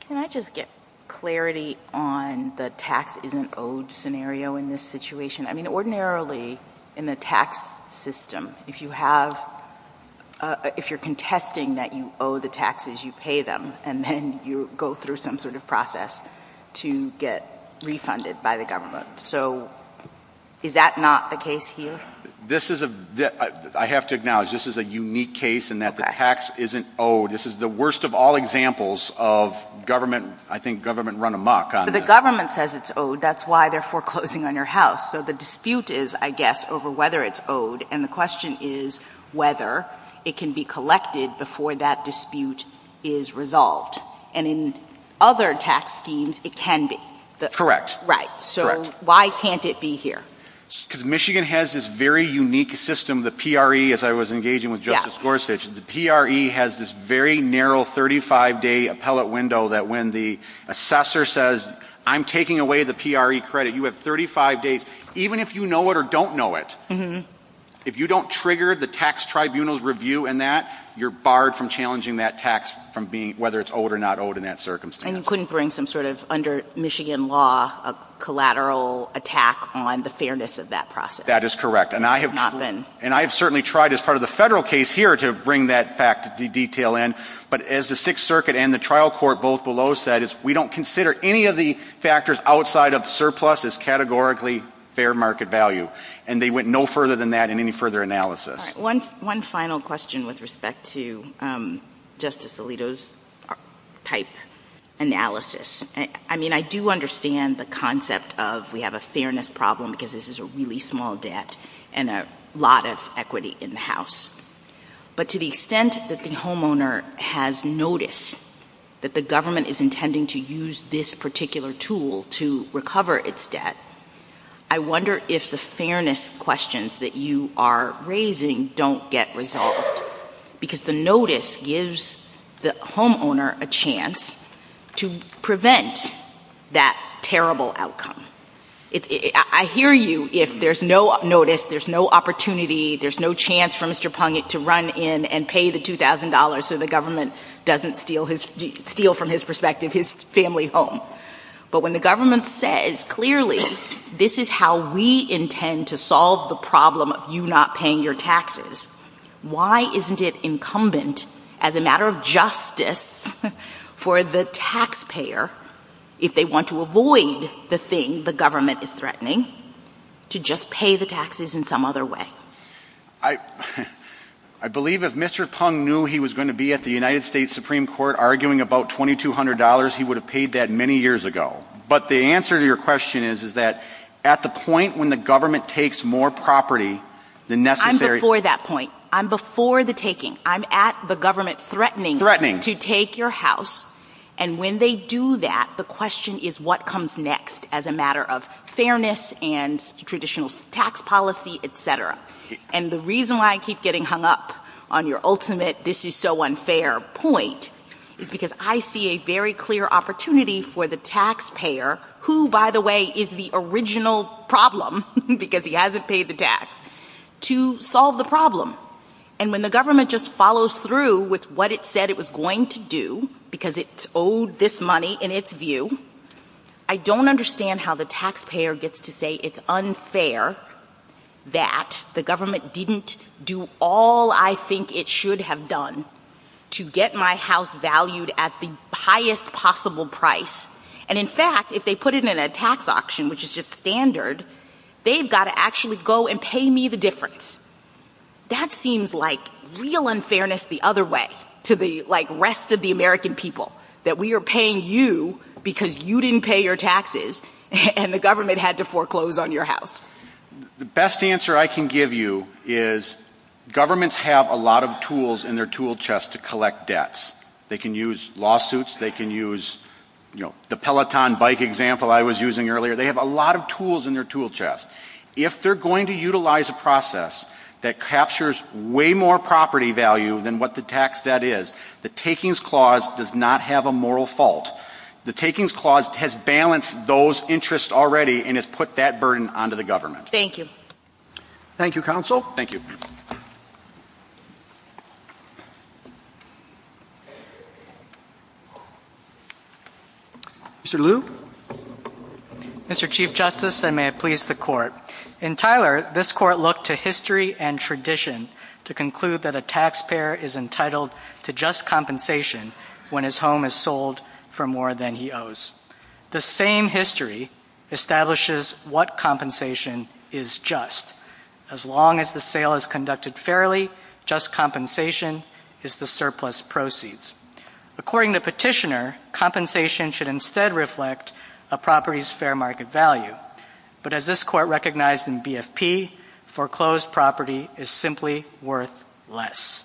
Can I just get clarity on the tax isn't owed scenario in this situation? I mean, ordinarily in the tax system, if you're contesting that you owe the taxes, you pay them, and then you go through some sort of process to get refunded by the government. So is that not the case here? I have to acknowledge this is a unique case in that the tax isn't owed. This is the worst of all examples of, I think, government run amok on this. The government says it's owed. That's why they're foreclosing on your house. So the dispute is, I guess, over whether it's owed, and the question is whether it can be collected before that dispute is resolved. And in other tax schemes, it can be. Correct. Right. So why can't it be here? Because Michigan has this very unique system. The PRE, as I was engaging with Justice Gorsuch, the PRE has this very narrow 35-day appellate window that when the assessor says, I'm taking away the PRE credit, you have 35 days, even if you know it or don't know it. If you don't trigger the tax tribunal's review in that, you're barred from challenging that tax from whether it's owed or not owed in that circumstance. And you couldn't bring some sort of, under Michigan law, a collateral attack on the fairness of that process. That is correct. Not then. And I have certainly tried as part of the federal case here to bring that detail in. But as the Sixth Circuit and the trial court both below said, we don't consider any of the factors outside of surplus as categorically fair market value. And they went no further than that in any further analysis. One final question with respect to Justice Alito's type analysis. I mean, I do understand the concept of we have a fairness problem because this is a really small debt and a lot of equity in the House. But to the extent that the homeowner has noticed that the government is intending to use this particular tool to recover its debt, I wonder if the fairness questions that you are raising don't get resolved. Because the notice gives the homeowner a chance to prevent that terrible outcome. I hear you if there's no notice, there's no opportunity, there's no chance for Mr. Pungent to run in and pay the $2,000 so the government doesn't steal from his perspective his family home. But when the government says clearly, this is how we intend to solve the problem of you not paying your taxes, why isn't it incumbent as a matter of justice for the taxpayer, if they want to avoid the thing the government is threatening, to just pay the taxes in some other way? I believe if Mr. Pung knew he was going to be at the United States Supreme Court arguing about $2,200, he would have paid that many years ago. But the answer to your question is, at the point when the government takes more property than necessary... I'm before that point. I'm before the taking. I'm at the government threatening to take your house. And when they do that, the question is what comes next as a matter of fairness and traditional tax policy, etc. And the reason why I keep getting hung up on your ultimate this is so unfair point is because I see a very clear opportunity for the taxpayer, who, by the way, is the original problem because he hasn't paid the tax, to solve the problem. And when the government just follows through with what it said it was going to do, because it owed this money in its view, I don't understand how the taxpayer gets to say it's unfair that the government didn't do all I think it should have done to get my house valued at the highest possible price. And in fact, if they put it in a tax auction, which is just standard, they've got to actually go and pay me the difference. That seems like real unfairness the other way, to the rest of the American people, that we are paying you because you didn't pay your taxes and the government had to foreclose on your house. The best answer I can give you is governments have a lot of tools in their tool chest to collect debts. They can use lawsuits. They can use the Peloton bike example I was using earlier. They have a lot of tools in their tool chest. If they're going to utilize a process that captures way more property value than what the tax debt is, the Takings Clause does not have a moral fault. The Takings Clause has balanced those interests already and has put that burden onto the government. Thank you. Thank you, Counsel. Thank you. Mr. Liu. Mr. Chief Justice, and may it please the Court. In Tyler, this Court looked to history and tradition to conclude that a taxpayer is entitled to just compensation when his home is sold for more than he owes. The same history establishes what compensation is just. As long as the sale is conducted fairly, just compensation is the surplus proceeds. According to Petitioner, compensation should instead reflect a property's fair market value. But as this Court recognized in BFP, foreclosed property is simply worth less.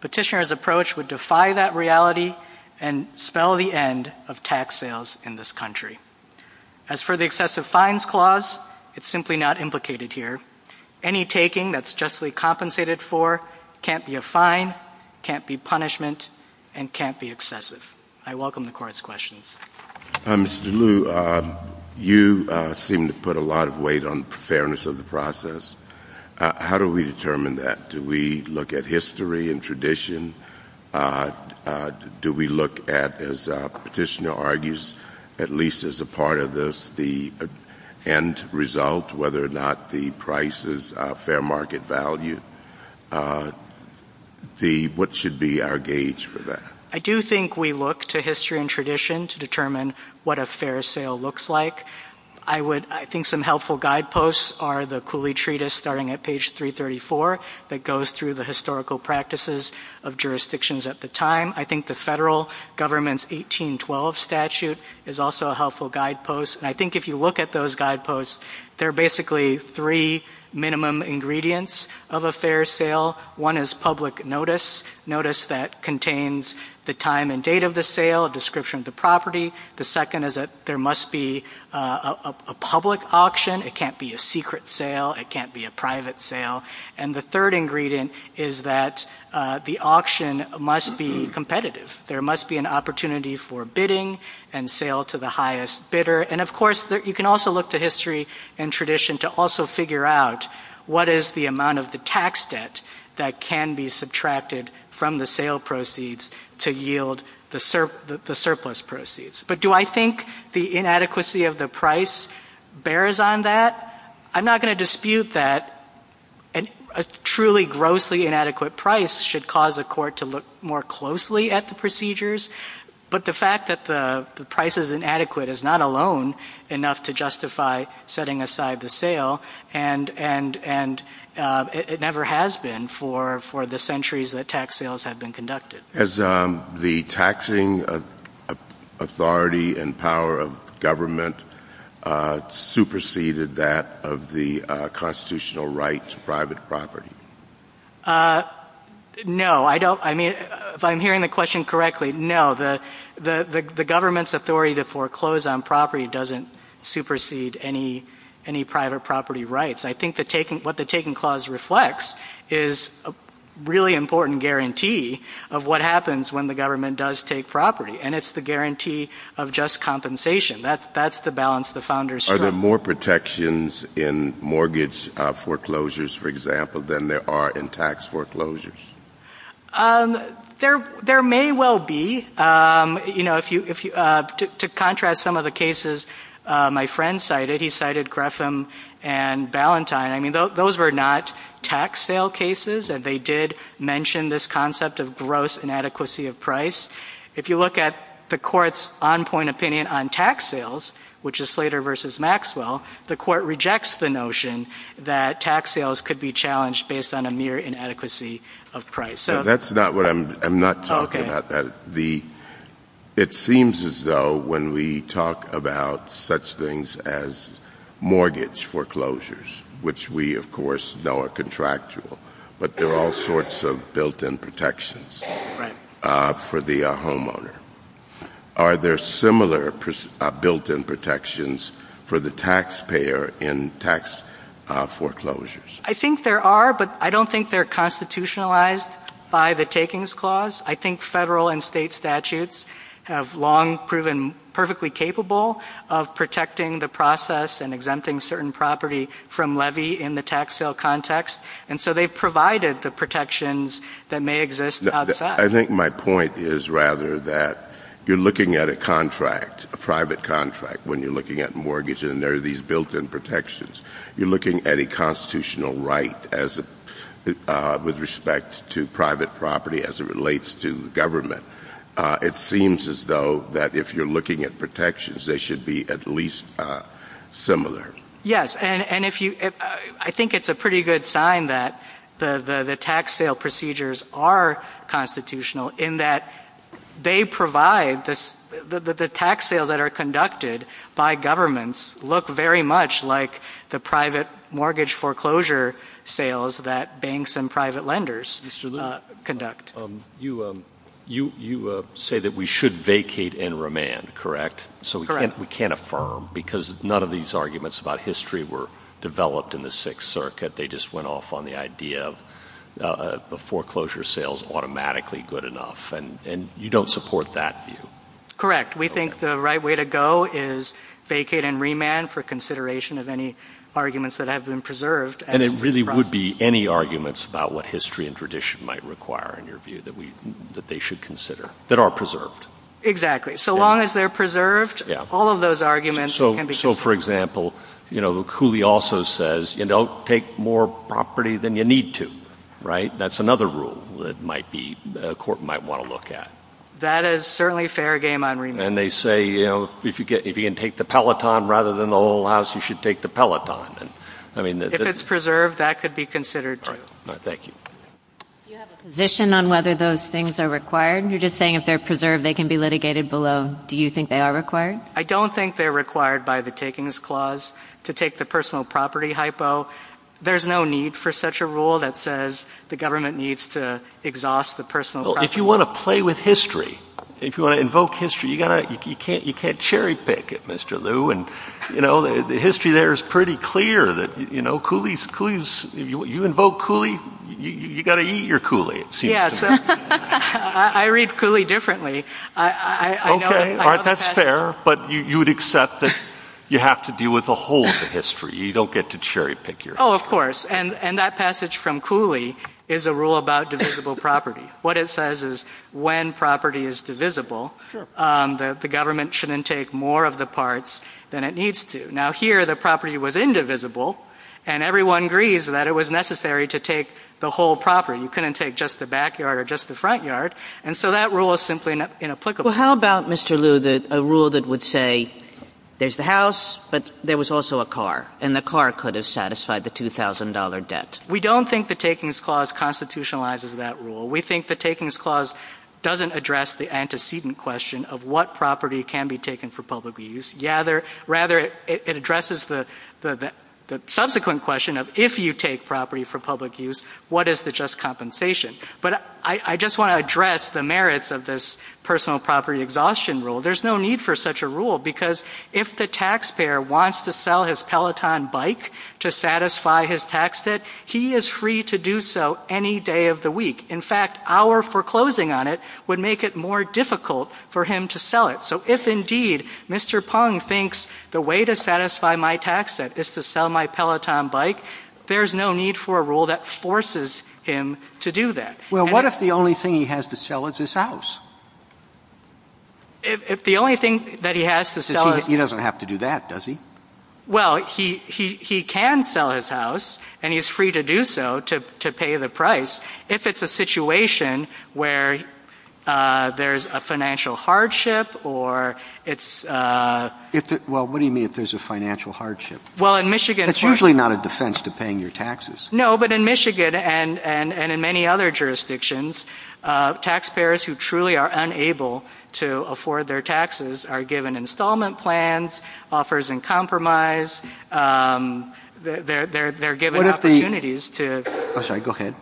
Petitioner's approach would defy that reality and spell the end of tax sales in this country. As for the Excessive Fines Clause, it's simply not implicated here. Any taking that's justly compensated for can't be a fine, can't be punishment, and can't be excessive. I welcome the Court's questions. Mr. Liu, you seem to put a lot of weight on the fairness of the process. How do we determine that? Do we look at history and tradition? Do we look at, as Petitioner argues, at least as a part of this, the end result, whether or not the price is a fair market value? What should be our gauge for that? I do think we look to history and tradition to determine what a fair sale looks like. I think some helpful guideposts are the Cooley Treatise, starting at page 334, that goes through the historical practices of jurisdictions at the time. I think the federal government's 1812 statute is also a helpful guidepost. And I think if you look at those guideposts, there are basically three minimum ingredients of a fair sale. One is public notice, notice that contains the time and date of the sale, a description of the property. The second is that there must be a public auction. It can't be a secret sale. It can't be a private sale. And the third ingredient is that the auction must be competitive. There must be an opportunity for bidding and sale to the highest bidder. And, of course, you can also look to history and tradition to also figure out what is the amount of the tax debt that can be subtracted from the sale proceeds to yield the surplus proceeds. But do I think the inadequacy of the price bears on that? I'm not going to dispute that a truly grossly inadequate price should cause a court to look more closely at the procedures, but the fact that the price is inadequate is not alone enough to justify setting aside the sale, and it never has been for the centuries that tax sales have been conducted. Has the taxing authority and power of government superseded that of the constitutional right to private property? No. If I'm hearing the question correctly, no. The government's authority to foreclose on property doesn't supersede any private property rights. I think what the Taking Clause reflects is a really important guarantee of what happens when the government does take property, and it's the guarantee of just compensation. That's the balance the founders struck. Are there more protections in mortgage foreclosures, for example, than there are in tax foreclosures? There may well be. To contrast some of the cases my friend cited, he cited Grefham and Ballantyne. Those were not tax sale cases, and they did mention this concept of gross inadequacy of price. If you look at the Court's on-point opinion on tax sales, which is Slater v. Maxwell, the Court rejects the notion that tax sales could be challenged based on a mere inadequacy of price. I'm not talking about that. It seems as though when we talk about such things as mortgage foreclosures, which we, of course, know are contractual, but there are all sorts of built-in protections for the homeowner. Are there similar built-in protections for the taxpayer in tax foreclosures? I think there are, but I don't think they're constitutionalized by the Takings Clause. I think federal and state statutes have long proven perfectly capable of protecting the process and exempting certain property from levy in the tax sale context, and so they've provided the protections that may exist outside. I think my point is rather that you're looking at a contract, a private contract, when you're looking at mortgage, and there are these built-in protections. You're looking at a constitutional right with respect to private property as it relates to government. It seems as though that if you're looking at protections, they should be at least similar. Yes, and I think it's a pretty good sign that the tax sale procedures are constitutional in that they provide the tax sales that are conducted by governments look very much like the private mortgage foreclosure sales that banks and private lenders conduct. You say that we should vacate and remand, correct? We can't affirm because none of these arguments about history were developed in the Sixth Circuit. They just went off on the idea of foreclosure sales automatically good enough, and you don't support that view. Correct. We think the right way to go is vacate and remand for consideration of any arguments that have been preserved. And it really would be any arguments about what history and tradition might require in your view that they should consider that are preserved. Exactly. So long as they're preserved, all of those arguments can be considered. So, for example, Cooley also says, don't take more property than you need to, right? That's another rule that a court might want to look at. That is certainly fair game on remand. And they say, if you can take the Peloton rather than the whole house, you should take the Peloton. If it's preserved, that could be considered too. All right, thank you. Do you have a position on whether those things are required? You're just saying if they're preserved, they can be litigated below. Do you think they are required? I don't think they're required by the takings clause to take the personal property hypo. There's no need for such a rule that says the government needs to exhaust the personal property. Well, if you want to play with history, if you want to invoke history, you can't cherry pick it, Mr. Lew. And, you know, the history there is pretty clear that, you know, you invoke Cooley, you've got to eat your Cooley. I read Cooley differently. Okay, all right, that's fair. But you would accept that you have to deal with the whole of the history. You don't get to cherry pick your history. Oh, of course. And that passage from Cooley is a rule about divisible property. What it says is when property is divisible, the government shouldn't take more of the parts than it needs to. Now, here the property was indivisible, and everyone agrees that it was necessary to take the whole property. You couldn't take just the backyard or just the front yard, and so that rule is simply inapplicable. Well, how about, Mr. Lew, a rule that would say there's the house, but there was also a car, and the car could have satisfied the $2,000 debt? We don't think the Takings Clause constitutionalizes that rule. We think the Takings Clause doesn't address the antecedent question of what property can be taken for public use. Rather, it addresses the subsequent question of if you take property for public use, what is the just compensation? But I just want to address the merits of this personal property exhaustion rule. There's no need for such a rule, because if the taxpayer wants to sell his Peloton bike to satisfy his tax debt, he is free to do so any day of the week. In fact, our foreclosing on it would make it more difficult for him to sell it. So if, indeed, Mr. Pong thinks the way to satisfy my tax debt is to sell my Peloton bike, there's no need for a rule that forces him to do that. Well, what if the only thing he has to sell is his house? If the only thing that he has to sell is his house... He doesn't have to do that, does he? Well, he can sell his house, and he's free to do so to pay the price, if it's a situation where there's a financial hardship or it's a... Well, what do you mean if there's a financial hardship? Well, in Michigan... It's usually not a defense to paying your taxes. No, but in Michigan and in many other jurisdictions, taxpayers who truly are unable to afford their taxes are given installment plans, offers in compromise. They're given opportunities to... I'm sorry. Go ahead.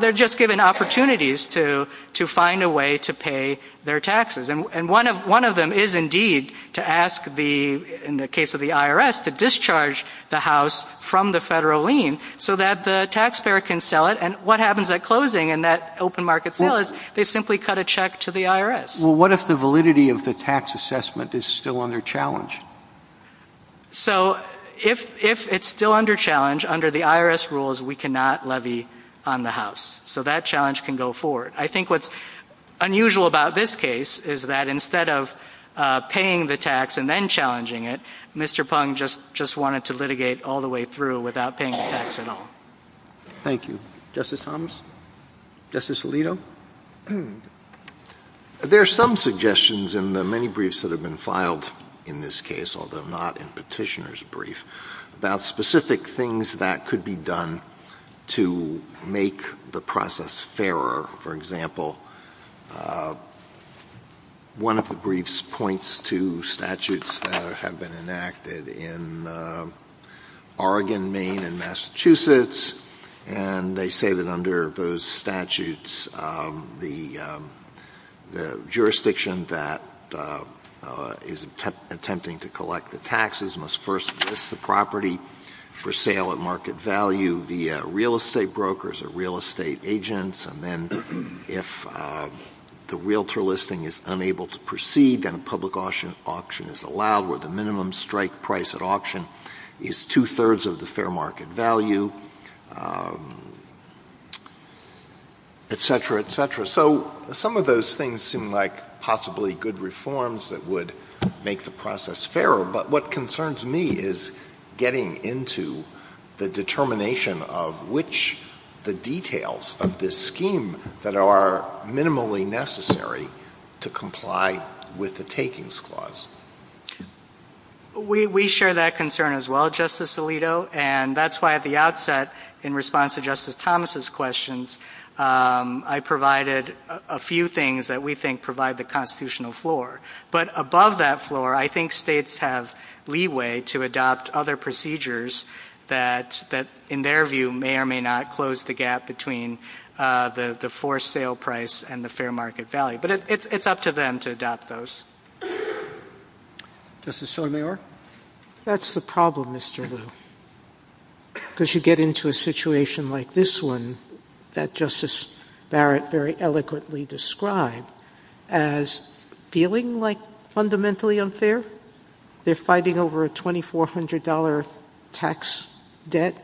They're just given opportunities to find a way to pay their taxes. And one of them is indeed to ask, in the case of the IRS, to discharge the house from the federal lien so that the taxpayer can sell it. And what happens at closing in that open market sale is they simply cut a check to the IRS. Well, what if the validity of the tax assessment is still under challenge? So if it's still under challenge, under the IRS rules, we cannot levy on the house. So that challenge can go forward. I think what's unusual about this case is that instead of paying the tax and then challenging it, Mr. Pung just wanted to litigate all the way through without paying the tax at all. Thank you. Justice Thomas? Justice Alito? There are some suggestions in the many briefs that have been filed in this case, although not in Petitioner's brief, about specific things that could be done to make the process fairer. For example, one of the briefs points to statutes that have been enacted in Oregon, Maine, and Massachusetts. And they say that under those statutes, the jurisdiction that is attempting to collect the taxes must first list the property for sale at market value via real estate brokers or real estate agents. And then if the realtor listing is unable to proceed and a public auction is allowed where the minimum strike price at auction is two-thirds of the fair market value, et cetera, et cetera. So some of those things seem like possibly good reforms that would make the process fairer. But what concerns me is getting into the determination of which the details of this scheme that are minimally necessary to comply with the takings clause. We share that concern as well, Justice Alito. And that's why at the outset, in response to Justice Thomas' questions, I provided a few things that we think provide the constitutional floor. But above that floor, I think states have leeway to adopt other procedures that, in their view, may or may not close the gap between the forced sale price and the fair market value. But it's up to them to adopt those. Justice Sotomayor? That's the problem, Mr. Lew. Because you get into a situation like this one that Justice Barrett very eloquently described as feeling like fundamentally unfair. They're fighting over a $2,400 tax debt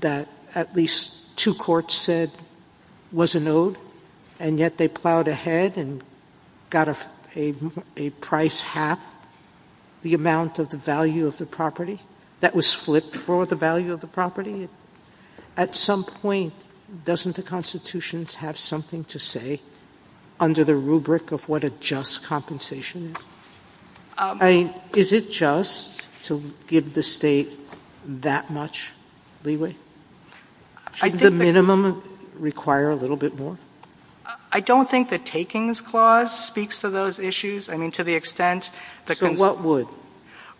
that at least two courts said wasn't owed, and yet they plowed ahead and got a price half the amount of the value of the property that was split for the value of the property. At some point, doesn't the Constitution have something to say under the rubric of what a just compensation is? I mean, is it just to give the state that much leeway? Shouldn't the minimum require a little bit more? I don't think the takings clause speaks to those issues. I mean, to the extent that the... So what would?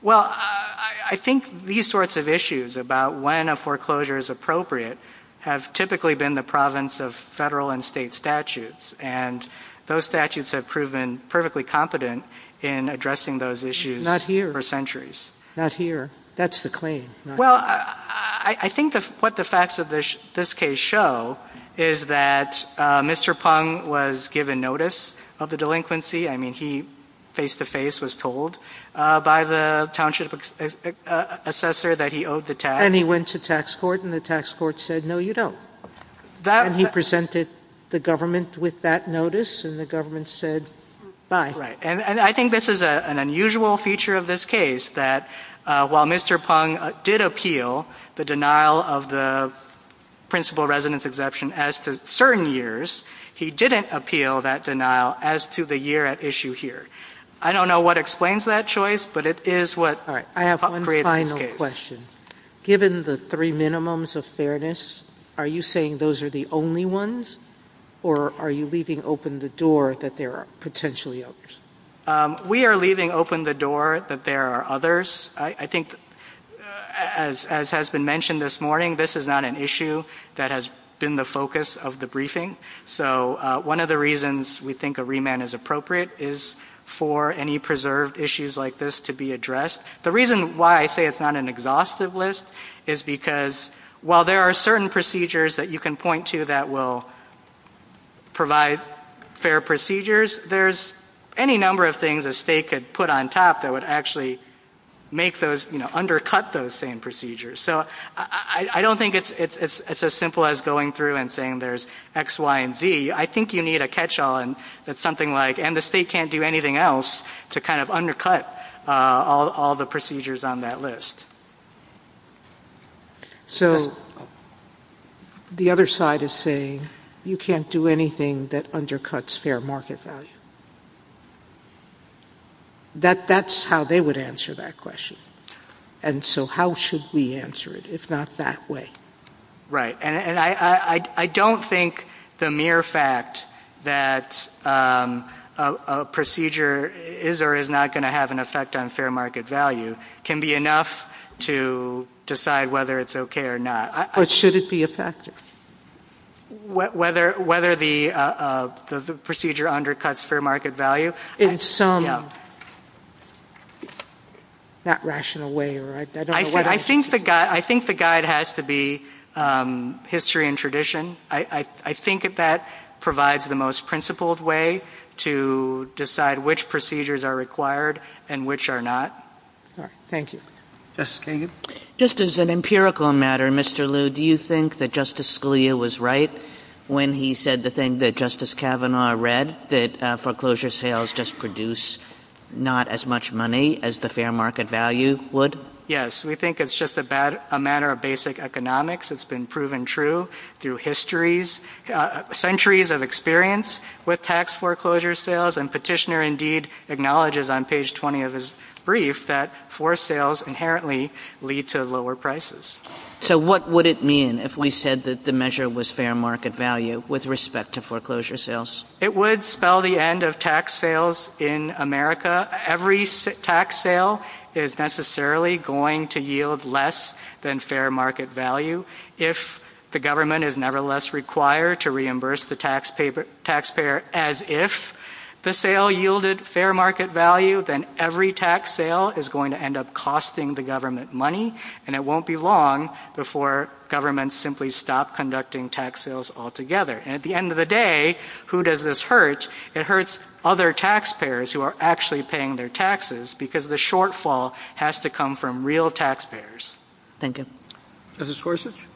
Well, I think these sorts of issues about when a foreclosure is appropriate have typically been the province of federal and state statutes, and those statutes have proven perfectly competent in addressing those issues for centuries. Not here. That's the claim. Well, I think what the facts of this case show is that Mr. Pong was given notice of the delinquency. I mean, he face-to-face was told by the township assessor that he owed the tax. And he went to tax court, and the tax court said, No, you don't. And he presented the government with that notice, and the government said, Bye. Right. And I think this is an unusual feature of this case, that while Mr. Pong did appeal the denial of the principal residence exemption as to certain years, he didn't appeal that denial as to the year at issue here. I don't know what explains that choice, but it is what... All right, I have one final question. Given the three minimums of fairness, are you saying those are the only ones, or are you leaving open the door that there are potentially others? We are leaving open the door that there are others. I think, as has been mentioned this morning, this is not an issue that has been the focus of the briefing. So one of the reasons we think a remand is appropriate is for any preserved issues like this to be addressed. The reason why I say it's not an exhaustive list is because, while there are certain procedures that you can point to that will provide fair procedures, there's any number of things a state could put on top that would actually undercut those same procedures. So I don't think it's as simple as going through and saying there's X, Y, and Z. I think you need a catch-all that's something like, and the state can't do anything else to kind of undercut all the procedures on that list. So the other side is saying you can't do anything that undercuts fair market value. That's how they would answer that question. And so how should we answer it? It's not that way. Right. And I don't think the mere fact that a procedure is or is not going to have an effect on fair market value can be enough to decide whether it's okay or not. Or should it be effective? Whether the procedure undercuts fair market value? In some not rational way. I think the guide has to be history and tradition. I think that that provides the most principled way to decide which procedures are required and which are not. Thank you. Justice Kagan? Just as an empirical matter, Mr. Liu, do you think that Justice Scalia was right when he said the thing that Justice Kavanaugh read, that foreclosure sales just produce not as much money as the fair market value would? Yes. We think it's just a matter of basic economics. It's been proven true through centuries of experience with tax foreclosure sales. And Petitioner indeed acknowledges on page 20 of his brief that forced sales inherently lead to lower prices. So what would it mean if we said that the measure was fair market value with respect to foreclosure sales? It would spell the end of tax sales in America. Every tax sale is necessarily going to yield less than fair market value. If the government is nevertheless required to reimburse the taxpayer as if the sale yielded fair market value, then every tax sale is going to end up costing the government money. And it won't be long before governments simply stop conducting tax sales altogether. And at the end of the day, who does this hurt? It hurts other taxpayers who are actually paying their taxes because the shortfall has to come from real taxpayers. Thank you. Justice Gorsuch?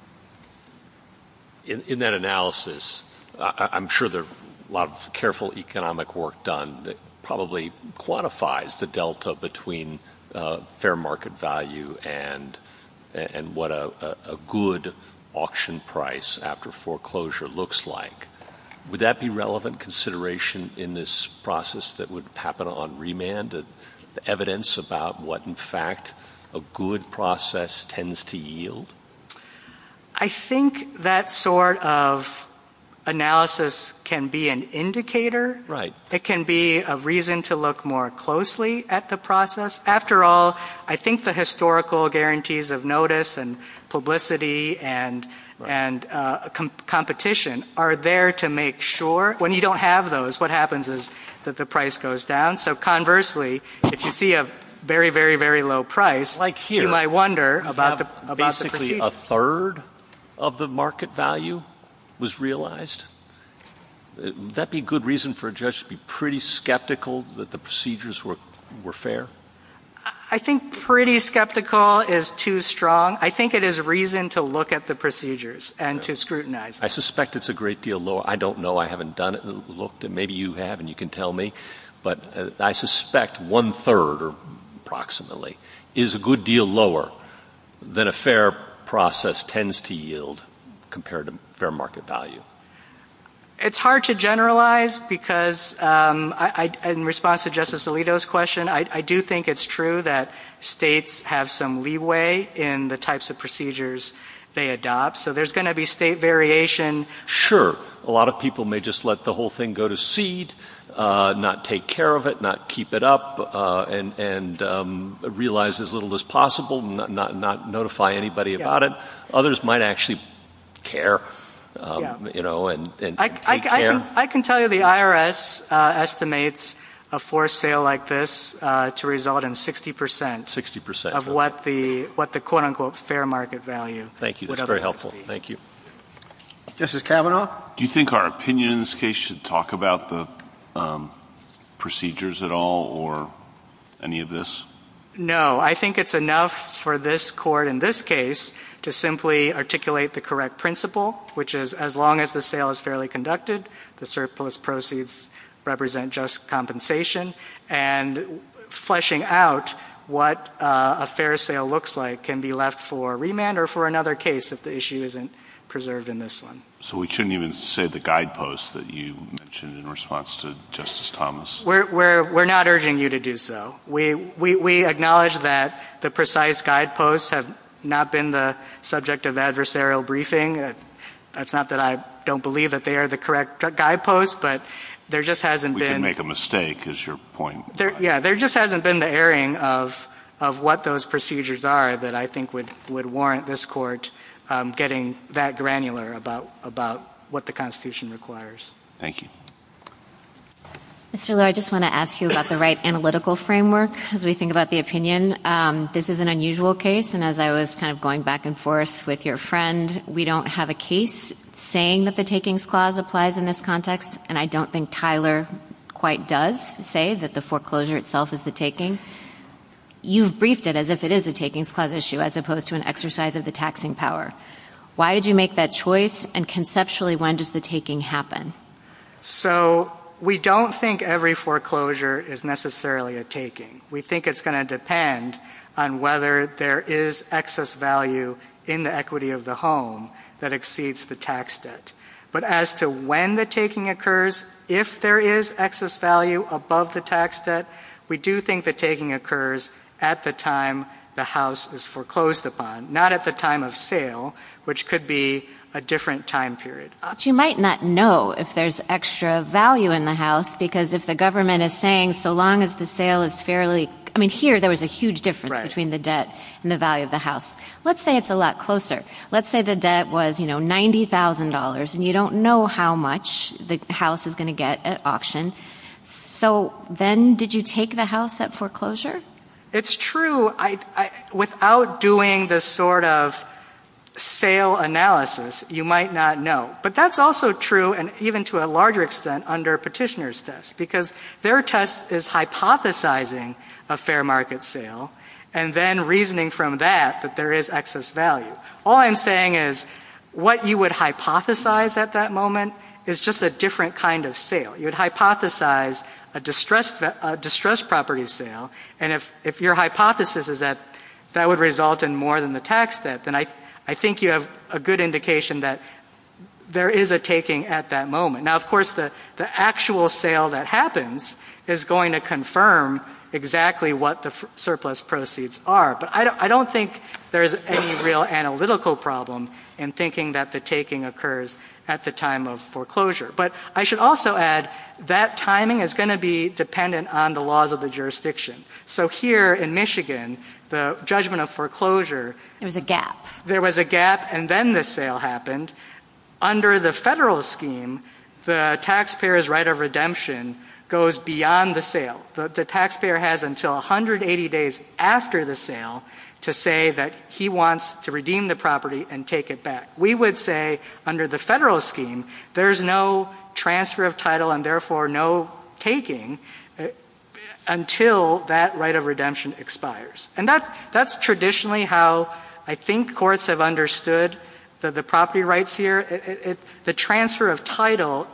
In that analysis, I'm sure there's a lot of careful economic work done that probably quantifies the delta between fair market value and what a good auction price after foreclosure looks like. Would that be relevant consideration in this process that would happen on remand, the evidence about what, in fact, a good process tends to yield? I think that sort of analysis can be an indicator. It can be a reason to look more closely at the process. After all, I think the historical guarantees of notice and publicity and competition are there to make sure. When you don't have those, what happens is that the price goes down. So conversely, if you see a very, very, very low price, about basically a third of the market value was realized, would that be a good reason for a judge to be pretty skeptical that the procedures were fair? I think pretty skeptical is too strong. I think it is reason to look at the procedures and to scrutinize. I suspect it's a great deal lower. I don't know. I haven't done it. Maybe you have, and you can tell me. But I suspect one-third or approximately is a good deal lower than a fair process tends to yield compared to fair market value. It's hard to generalize because in response to Justice Alito's question, I do think it's true that states have some leeway in the types of procedures they adopt. So there's going to be state variation. Sure. A lot of people may just let the whole thing go to seed, not take care of it, not keep it up and realize as little as possible, not notify anybody about it. Others might actually care and take care. I can tell you the IRS estimates a forced sale like this to result in 60 percent of what the quote-unquote fair market value would otherwise be. That's very helpful. Thank you. Justice Kavanaugh. Do you think our opinion in this case should talk about the procedures at all or any of this? No. I think it's enough for this Court in this case to simply articulate the correct principle, which is as long as the sale is fairly conducted, the surplus proceeds represent just compensation, and fleshing out what a fair sale looks like can be left for remand or for another case if the issue isn't preserved in this one. So we shouldn't even say the guideposts that you mentioned in response to Justice Thomas? We're not urging you to do so. We acknowledge that the precise guideposts have not been the subject of adversarial briefing. That's not that I don't believe that they are the correct guideposts, but there just hasn't been— I think is your point. Yeah, there just hasn't been the airing of what those procedures are that I think would warrant this Court getting that granular about what the Constitution requires. Thank you. Mr. Liu, I just want to ask you about the right analytical framework as we think about the opinion. This is an unusual case, and as I was kind of going back and forth with your friend, we don't have a case saying that the Takings Clause applies in this context, and I don't think Tyler quite does say that the foreclosure itself is the taking. You've briefed it as if it is a Takings Clause issue as opposed to an exercise of the taxing power. Why did you make that choice, and conceptually, when does the taking happen? So we don't think every foreclosure is necessarily a taking. We think it's going to depend on whether there is excess value in the equity of the home that exceeds the tax debt. But as to when the taking occurs, if there is excess value above the tax debt, we do think the taking occurs at the time the house is foreclosed upon, not at the time of sale, which could be a different time period. But you might not know if there's extra value in the house, because if the government is saying, so long as the sale is fairly – I mean, here, there was a huge difference between the debt and the value of the house. Let's say it's a lot closer. Let's say the debt was $90,000, and you don't know how much the house is going to get at auction. So then did you take the house at foreclosure? It's true. Without doing this sort of sale analysis, you might not know. But that's also true, and even to a larger extent, under a petitioner's test, because their test is hypothesizing a fair market sale, and then reasoning from that that there is excess value. All I'm saying is what you would hypothesize at that moment is just a different kind of sale. You'd hypothesize a distressed property sale, and if your hypothesis is that that would result in more than the tax debt, then I think you have a good indication that there is a taking at that moment. Now, of course, the actual sale that happens is going to confirm exactly what the surplus proceeds are, but I don't think there's any real analytical problem in thinking that the taking occurs at the time of foreclosure. But I should also add that timing is going to be dependent on the laws of the jurisdiction. So here in Michigan, the judgment of foreclosure is a gap. There was a gap, and then the sale happened. Under the federal scheme, the taxpayer's right of redemption goes beyond the sale. The taxpayer has until 180 days after the sale to say that he wants to redeem the property and take it back. We would say under the federal scheme, there's no transfer of title and therefore no taking until that right of redemption expires. And that's traditionally how I think courts have understood the property rights here. The transfer of title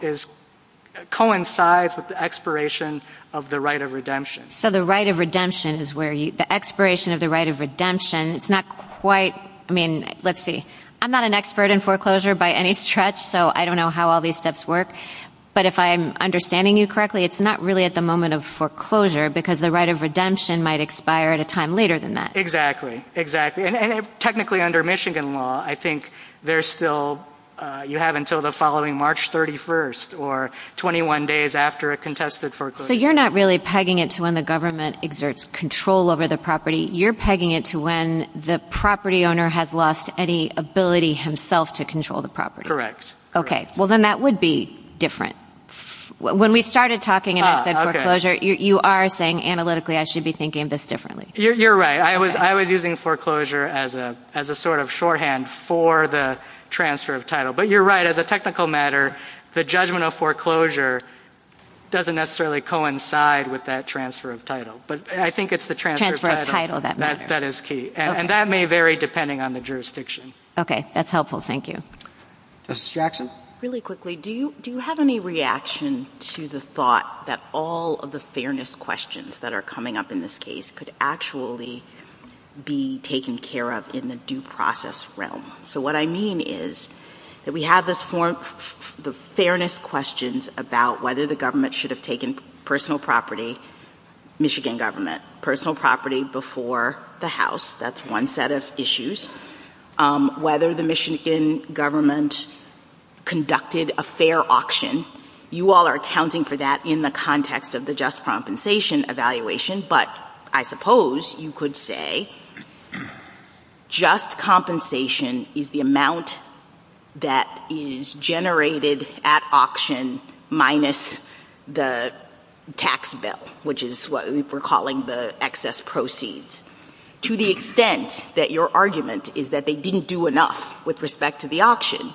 coincides with the expiration of the right of redemption. So the right of redemption is where the expiration of the right of redemption, it's not quite, I mean, let's see. I'm not an expert in foreclosure by any stretch, so I don't know how all these steps work. But if I'm understanding you correctly, it's not really at the moment of foreclosure because the right of redemption might expire at a time later than that. Exactly, exactly. And technically under Michigan law, I think there's still, you have until the following March 31st or 21 days after a contested foreclosure. So you're not really pegging it to when the government exerts control over the property. You're pegging it to when the property owner has lost any ability himself to control the property. Okay, well then that would be different. When we started talking about foreclosure, you are saying analytically I should be thinking of this differently. You're right. I was using foreclosure as a sort of shorthand for the transfer of title. But you're right, as a technical matter, the judgment of foreclosure doesn't necessarily coincide with that transfer of title. But I think it's the transfer of title that is key. And that may vary depending on the jurisdiction. Okay, that's helpful. Thank you. Justice Jackson? Really quickly, do you have any reaction to the thought that all of the fairness questions that are coming up in this case could actually be taken care of in the due process realm? So what I mean is that we have the fairness questions about whether the government should have taken personal property, Michigan government, personal property before the House. That's one set of issues. Whether the Michigan government conducted a fair auction. You all are accounting for that in the context of the just compensation evaluation. But I suppose you could say just compensation is the amount that is generated at auction minus the tax bill, which is what we're calling the excess proceeds. To the extent that your argument is that they didn't do enough with respect to the auction,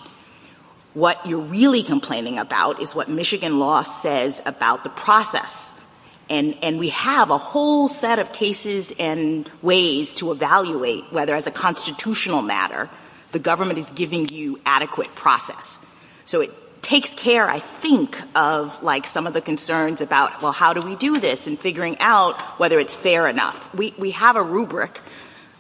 what you're really complaining about is what Michigan law says about the process. And we have a whole set of cases and ways to evaluate whether, as a constitutional matter, the government is giving you adequate process. So it takes care, I think, of some of the concerns about, well, how do we do this, and figuring out whether it's fair or not. We have a rubric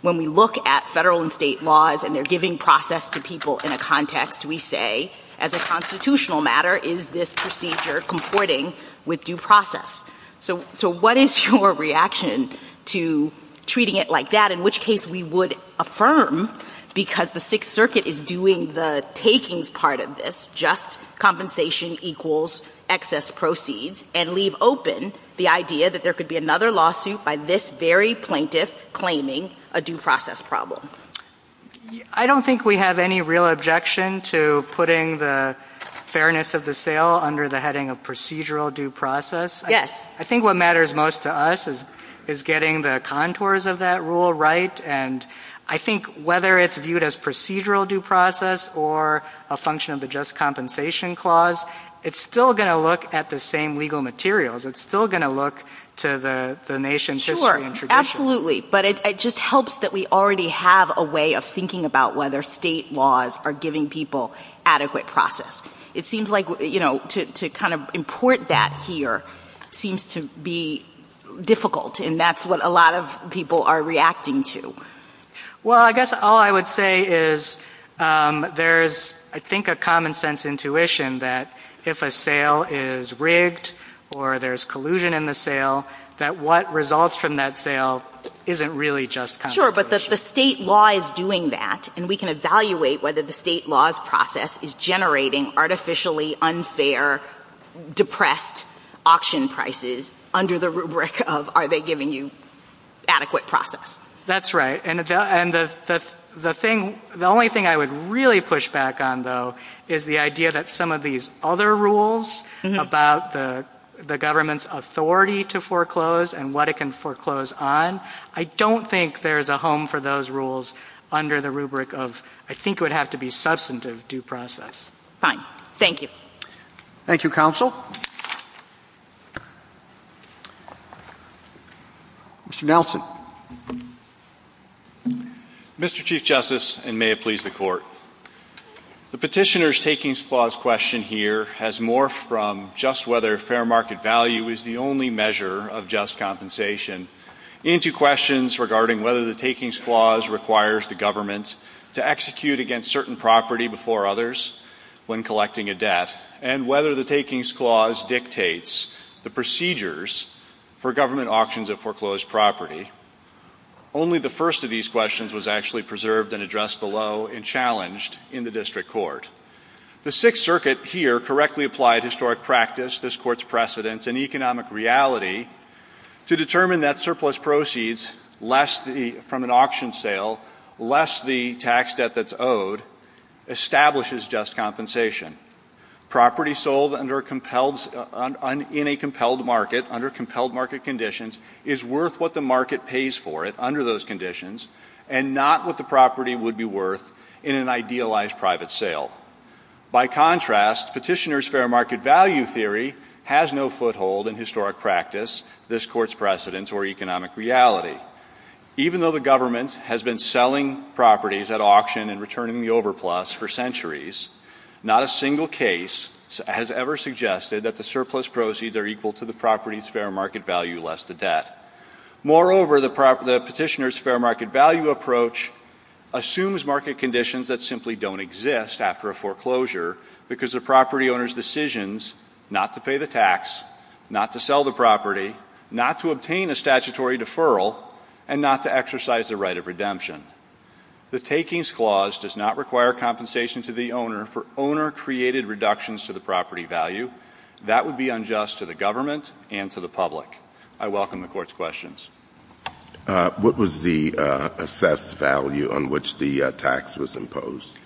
when we look at federal and state laws and they're giving process to people in a context. We say, as a constitutional matter, is this procedure comporting with due process? So what is your reaction to treating it like that? In which case we would affirm, because the Sixth Circuit is doing the taking part of this, just compensation equals excess proceeds, and leave open the idea that there could be another lawsuit by this very plaintiff claiming a due process problem. I don't think we have any real objection to putting the fairness of the sale under the heading of procedural due process. Yes. I think what matters most to us is getting the contours of that rule right. And I think whether it's viewed as procedural due process or a function of the just compensation clause, it's still going to look at the same legal materials. It's still going to look to the nation's history and tradition. Sure, absolutely. But it just helps that we already have a way of thinking about whether state laws are giving people adequate process. It seems like, you know, to kind of import that here seems to be difficult. And that's what a lot of people are reacting to. Well, I guess all I would say is there's, I think, a common sense intuition that if a sale is rigged or there's collusion in the sale, that what results from that sale isn't really just compensation. Sure, but the state law is doing that. And we can evaluate whether the state law's process is generating artificially unfair depressed auction prices under the rubric of are they giving you adequate process. That's right. And the only thing I would really push back on, though, is the idea that some of these other rules about the government's authority to foreclose and what it can foreclose on, I don't think there's a home for those rules under the rubric of I think it would have to be substantive due process. Fine. Thank you. Thank you, Counsel. Mr. Nelson. Mr. Chief Justice, and may it please the Court, The Petitioner's Takings Clause question here has morphed from just whether fair market value is the only measure of just compensation into questions regarding whether the Takings Clause requires the government to execute against certain property before others when collecting a debt and whether the Takings Clause dictates the procedures for government auctions of foreclosed property. Only the first of these questions was actually preserved and addressed below and challenged in the District Court. The Sixth Circuit here correctly applied historic practice, this Court's precedents, and economic reality to determine that surplus proceeds from an auction sale, less the tax debt that's owed, establishes just compensation. Property sold in a compelled market under compelled market conditions is worth what the market pays for it under those conditions and not what the property would be worth in an idealized private sale. By contrast, Petitioner's fair market value theory has no foothold in historic practice, this Court's precedents, or economic reality. Even though the government has been selling properties at auction and returning the overplus for centuries, not a single case has ever suggested that the surplus proceeds are equal to the property's fair market value, less the debt. Moreover, the Petitioner's fair market value approach assumes market conditions that simply don't exist after a foreclosure because the property owner's decision is not to pay the tax, not to sell the property, not to obtain a statutory deferral, and not to exercise the right of redemption. The Takings Clause does not require compensation to the owner for owner-created reductions to the property value. That would be unjust to the government and to the public. I welcome the Court's questions. What was the assessed value on which the tax was imposed?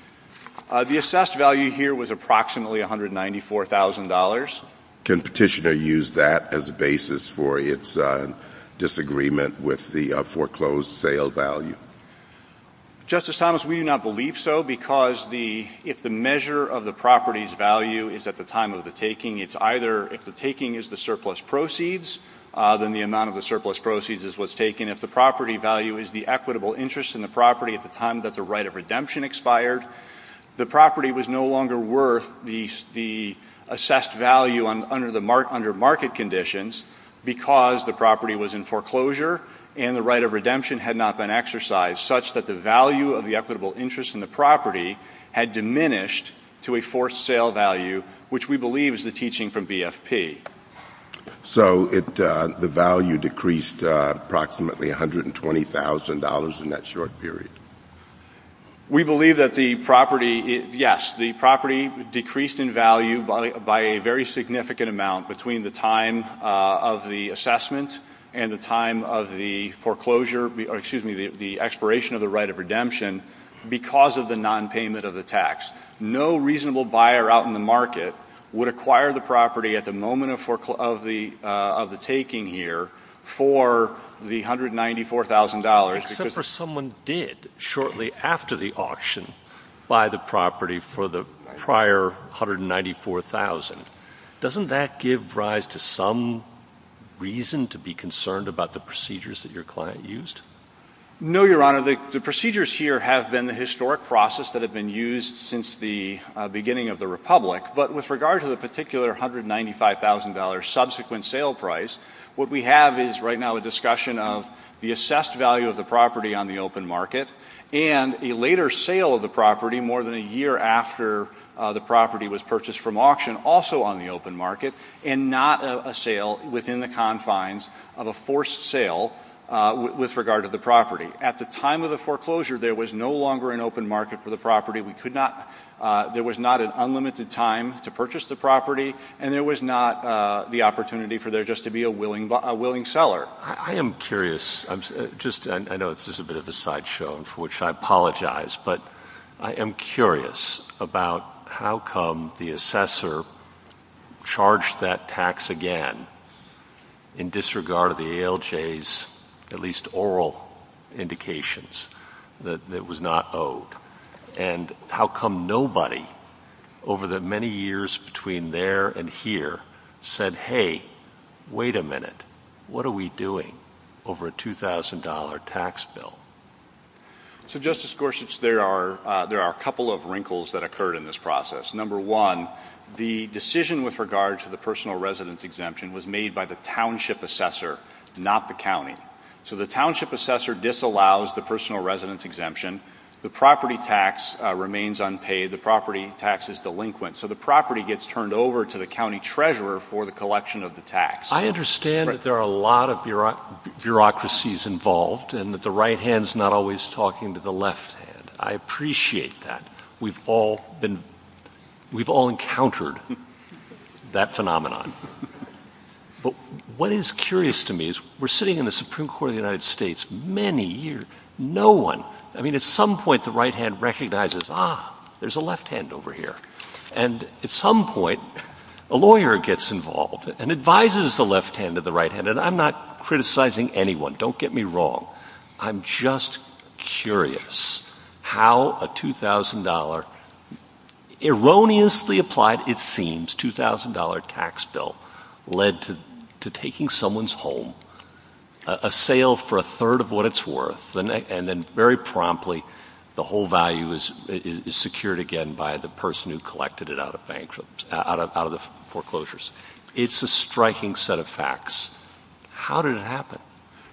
The assessed value here was approximately $194,000. Can Petitioner use that as a basis for its disagreement with the foreclosed sale value? Justice Thomas, we do not believe so because if the measure of the property's value is at the time of the taking, it's either if the taking is the surplus proceeds, then the amount of the surplus proceeds is what's taken. If the property value is the equitable interest in the property at the time that the right of redemption expired, the property was no longer worth the assessed value under market conditions because the property was in foreclosure and the right of redemption had not been exercised, such that the value of the equitable interest in the property had diminished to a forced sale value, which we believe is the teaching from BFP. So the value decreased approximately $120,000 in that short period? We believe that the property, yes, the property decreased in value by a very significant amount between the time of the assessment and the time of the expiration of the right of redemption because of the nonpayment of the tax. No reasonable buyer out in the market would acquire the property at the moment of the taking here for the $194,000. Except for someone did shortly after the auction buy the property for the prior $194,000. Doesn't that give rise to some reason to be concerned about the procedures that your client used? No, Your Honor. The procedures here have been the historic process that have been used since the beginning of the Republic, but with regard to the particular $195,000 subsequent sale price, what we have is right now a discussion of the assessed value of the property on the open market and a later sale of the property more than a year after the property was purchased from auction, also on the open market, and not a sale within the confines of a forced sale with regard to the property. At the time of the foreclosure, there was no longer an open market for the property. There was not an unlimited time to purchase the property, and there was not the opportunity for there just to be a willing seller. I am curious. I know this is a bit of a sideshow, for which I apologize, but I am curious about how come the assessor charged that tax again in disregard of the ALJ's, at least oral indications, that it was not owed? And how come nobody over the many years between there and here said, hey, wait a minute, what are we doing over a $2,000 tax bill? So, Justice Gorsuch, there are a couple of wrinkles that occurred in this process. Number one, the decision with regard to the personal residence exemption was made by the township assessor, not the county. So the township assessor disallows the personal residence exemption. The property tax remains unpaid. The property tax is delinquent. So the property gets turned over to the county treasurer for the collection of the tax. I understand that there are a lot of bureaucracies involved and that the right hand is not always talking to the left hand. I appreciate that. We've all encountered that phenomenon. But what is curious to me is we're sitting in the Supreme Court of the United States many years, no one, I mean, at some point the right hand recognizes, ah, there's a left hand over here. And at some point, a lawyer gets involved and advises the left hand or the right hand, and I'm not criticizing anyone, don't get me wrong, I'm just curious how a $2,000, erroneously applied, it seems, $2,000 tax bill, led to taking someone's home, a sale for a third of what it's worth, and then very promptly the whole value is secured again by the person who collected it out of bankruptcy, out of the foreclosures. It's a striking set of facts. How did it happen?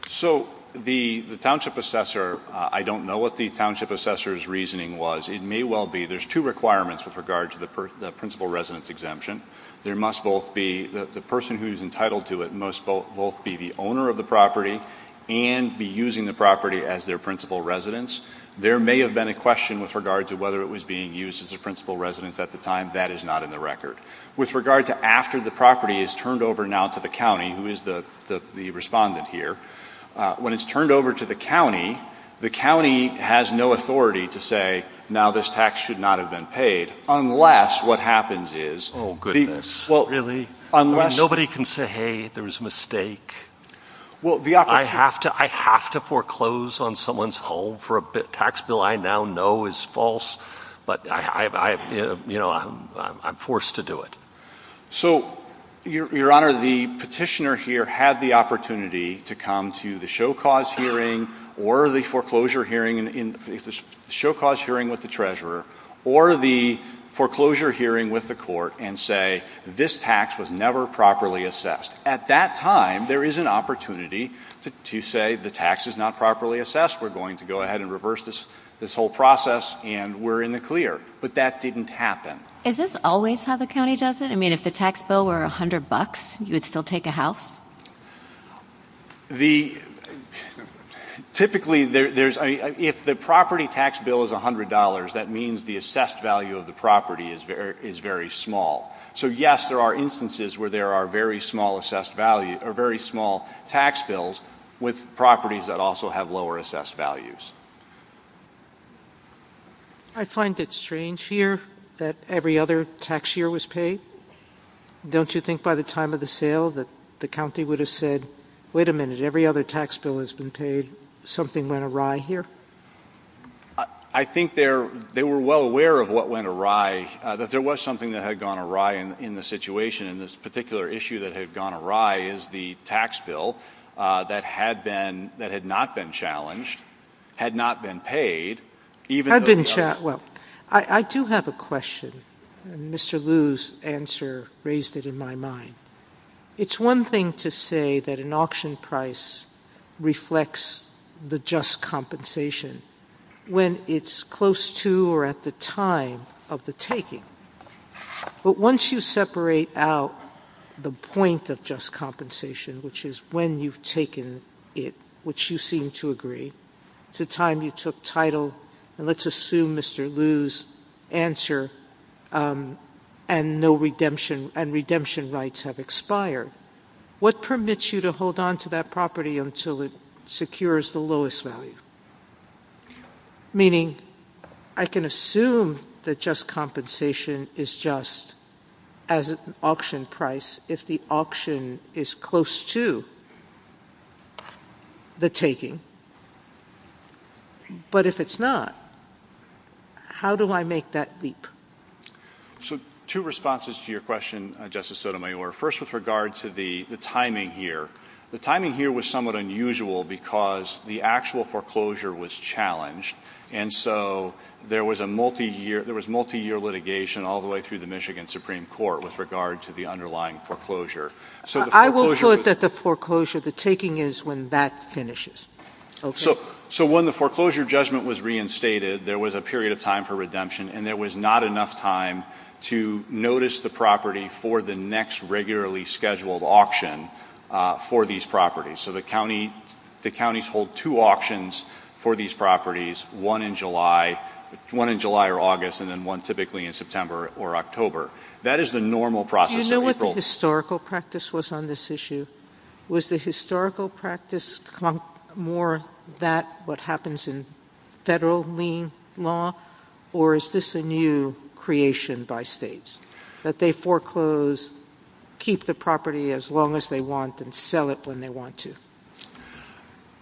So the township assessor, I don't know what the township assessor's reasoning was. It may well be there's two requirements with regard to the principal residence exemption. There must both be, the person who is entitled to it must both be the owner of the property and be using the property as their principal residence. There may have been a question with regard to whether it was being used as a principal residence at the time. That is not in the record. With regard to after the property is turned over now to the county, who is the respondent here, when it's turned over to the county, the county has no authority to say, now this tax should not have been paid, unless what happens is the... Oh, goodness. Really? Unless... Nobody can say, hey, there was a mistake. I have to foreclose on someone's home for a tax bill I now know is false, but I'm forced to do it. So, Your Honor, the petitioner here had the opportunity to come to the show cause hearing or the foreclosure hearing in the show cause hearing with the treasurer or the foreclosure hearing with the court and say, this tax was never properly assessed. At that time, there is an opportunity to say the tax is not properly assessed, we're going to go ahead and reverse this whole process and we're in the clear. But that didn't happen. Is this always how the county does it? I mean, if the tax bill were $100, you would still take a house? Typically, if the property tax bill is $100, that means the assessed value of the property is very small. So, yes, there are instances where there are very small tax bills with properties that also have lower assessed values. I find it strange here that every other tax year was paid. Don't you think by the time of the sale that the county would have said, wait a minute, every other tax bill has been paid, something went awry here? I think they were well aware of what went awry, that there was something that had gone awry in the situation. And this particular issue that had gone awry is the tax bill that had not been challenged, had not been paid. I do have a question. Mr. Liu's answer raised it in my mind. It's one thing to say that an auction price reflects the just compensation when it's close to or at the time of the taking. But once you separate out the point of just compensation, which is when you've taken it, which you seem to agree, to the time you took title, and let's assume Mr. Liu's answer, and redemption rights have expired, what permits you to hold onto that property until it secures the lowest value? Meaning, I can assume that just compensation is just as an auction price if the auction is close to the taking. But if it's not, how do I make that leap? So, two responses to your question, Justice Sotomayor. First, with regard to the timing here. The timing here was somewhat unusual because the actual foreclosure was challenged, and so there was multi-year litigation all the way through the Michigan Supreme Court with regard to the underlying foreclosure. I will quote that the foreclosure, the taking is when that finishes. So when the foreclosure judgment was reinstated, there was a period of time for redemption, and there was not enough time to notice the property for the next regularly scheduled auction for these properties. So the counties hold two auctions for these properties, one in July or August, and then one typically in September or October. That is the normal process. Do you know what the historical practice was on this issue? Was the historical practice more that what happens in federal lien law, or is this a new creation by states that they foreclose, keep the property as long as they want, and sell it when they want to?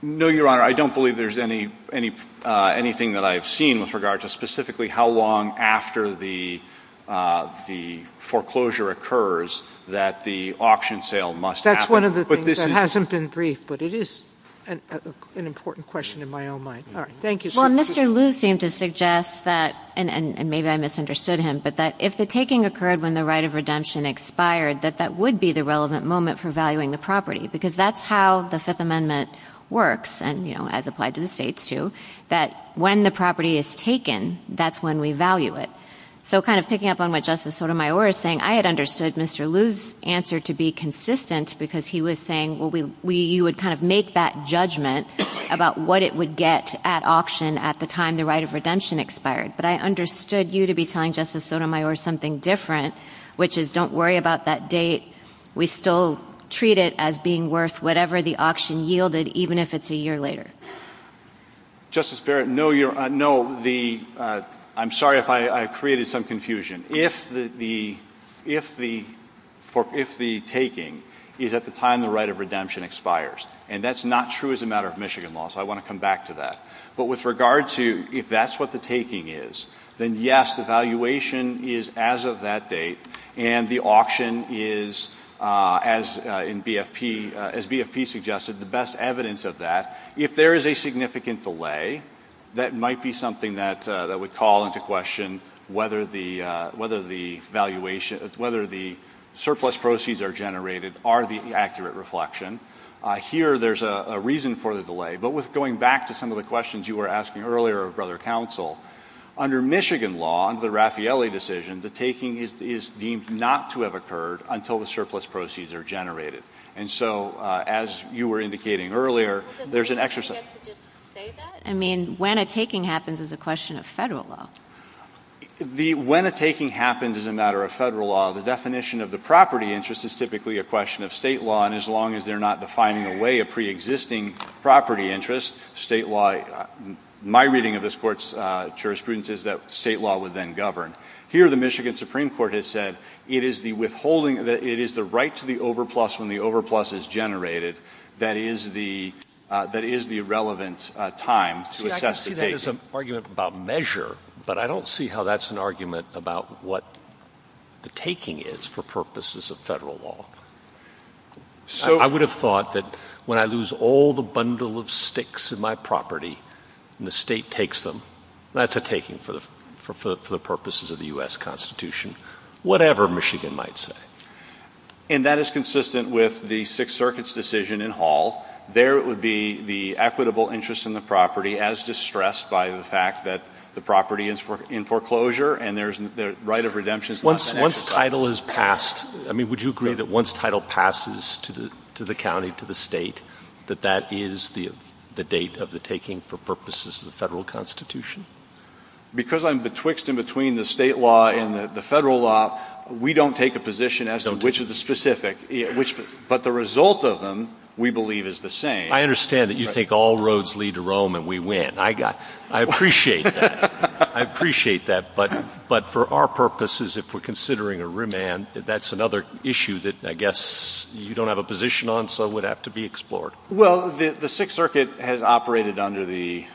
No, Your Honor. I don't believe there's anything that I've seen with regard to specifically how long after the foreclosure occurs that the auction sale must happen. That's one of the things that hasn't been briefed, but it is an important question in my own mind. All right. Thank you, sir. Well, Mr. Lew seemed to suggest that, and maybe I misunderstood him, but that if the taking occurred when the right of redemption expired, that that would be the relevant moment for valuing the property, because that's how the Fifth Amendment works, and, you know, as applied to the states too, that when the property is taken, that's when we value it. So kind of picking up on what Justice Sotomayor is saying, I had understood Mr. Lew's answer to be consistent because he was saying, well, you would kind of make that judgment about what it would get at auction at the time the right of redemption expired. But I understood you to be telling Justice Sotomayor something different, which is don't worry about that date. We still treat it as being worth whatever the auction yielded, even if it's a year later. Justice Barrett, no, I'm sorry if I created some confusion. If the taking is at the time the right of redemption expires, and that's not true as a matter of Michigan law, so I want to come back to that. But with regard to if that's what the taking is, then yes, the valuation is as of that date, and the auction is, as BFP suggested, the best evidence of that. If there is a significant delay, that might be something that would call into question whether the surplus proceeds are generated or the accurate reflection. Here there's a reason for the delay. But going back to some of the questions you were asking earlier, Brother Counsel, under Michigan law, under the Raffaelli decision, the taking is deemed not to have occurred until the surplus proceeds are generated. And so as you were indicating earlier, there's an exercise. I mean, when a taking happens is a question of federal law. When a taking happens as a matter of federal law, the definition of the property interest is typically a question of state law, and as long as they're not defining away a preexisting property interest, my reading of this Court's jurisprudence is that state law would then govern. Here the Michigan Supreme Court has said it is the right to the overplus when the overplus is generated that is the relevant time to assess the taking. I see that as an argument about measure, but I don't see how that's an argument about what the taking is for purposes of federal law. I would have thought that when I lose all the bundle of sticks in my property and the state takes them, that's a taking for the purposes of the U.S. Constitution, whatever Michigan might say. And that is consistent with the Sixth Circuit's decision in Hall. There would be the equitable interest in the property as distressed by the fact that the property is in foreclosure and the right of redemption is not an asset. Once title is passed, I mean, would you agree that once title passes to the county, to the state, that that is the date of the taking for purposes of the federal Constitution? Because I'm betwixt and between the state law and the federal law, we don't take a position as to which is specific, but the result of them, we believe, is the same. I understand that you take all roads lead to Rome and we win. I appreciate that, but for our purposes, if we're considering a remand, that's another issue that I guess you don't have a position on, so it would have to be explored. Well, the Sixth Circuit has operated under the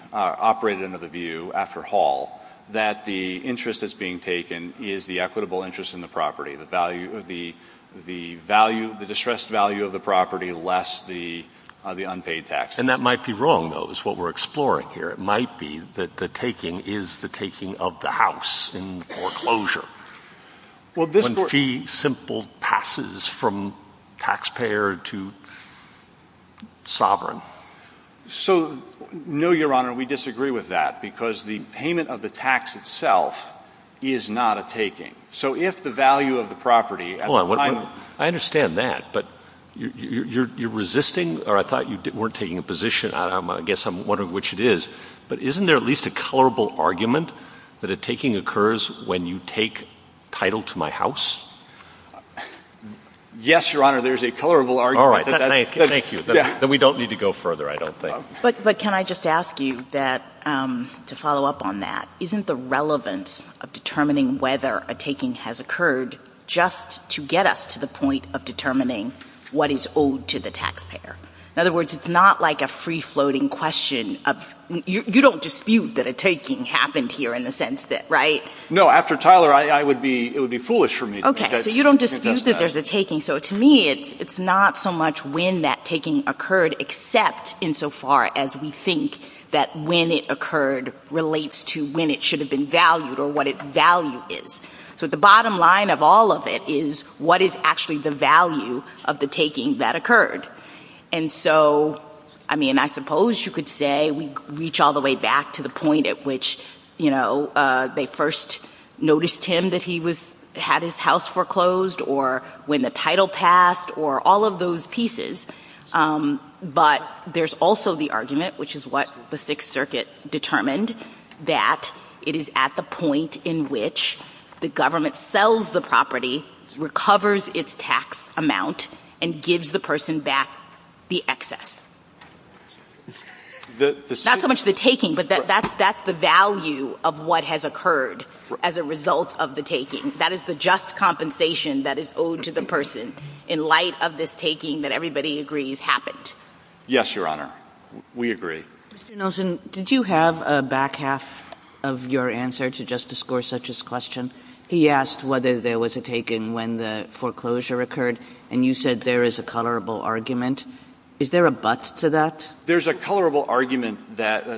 view after Hall that the interest that's being taken is the equitable interest in the property, the value, the distressed value of the property less the unpaid taxes. And that might be wrong, though, is what we're exploring here. It might be that the taking is the taking of the house in foreclosure. When fee simple passes from taxpayer to sovereign. So, no, Your Honor, we disagree with that because the payment of the tax itself is not a taking. So if the value of the property at the time... Hold on. I understand that, but you're resisting, or I thought you weren't taking a position. I guess I'm wondering which it is. But isn't there at least a colorable argument that a taking occurs when you take title to my house? Yes, Your Honor, there's a colorable argument. All right. Thank you. Then we don't need to go further, I don't think. But can I just ask you to follow up on that? Isn't the relevance of determining whether a taking has occurred just to get us to the point of determining what is owed to the taxpayer? In other words, it's not like a free-floating question of... You don't dispute that a taking happened here in the sense that, right? No, after Tyler, it would be foolish for me to... Okay, so you don't dispute that there's a taking. So to me, it's not so much when that taking occurred, except insofar as we think that when it occurred relates to when it should have been valued or what its value is. So the bottom line of all of it is what is actually the value of the taking that occurred? And so, I mean, I suppose you could say we reach all the way back to the point at which, you know, they first noticed him that he had his house foreclosed, or when the title passed, or all of those pieces. But there's also the argument, which is what the Sixth Circuit determined, that it is at the point in which the government sells the property, recovers its tax amount, and gives the person back the excess. Not so much the taking, but that's the value of what has occurred as a result of the taking. That is the just compensation that is owed to the person in light of this taking that everybody agrees happened. Yes, Your Honor. We agree. Mr. Nelson, did you have a back half of your answer to Justice Gorsuch's question? He asked whether there was a taking when the foreclosure occurred, and you said there is a colorable argument. Is there a but to that? There's a colorable argument.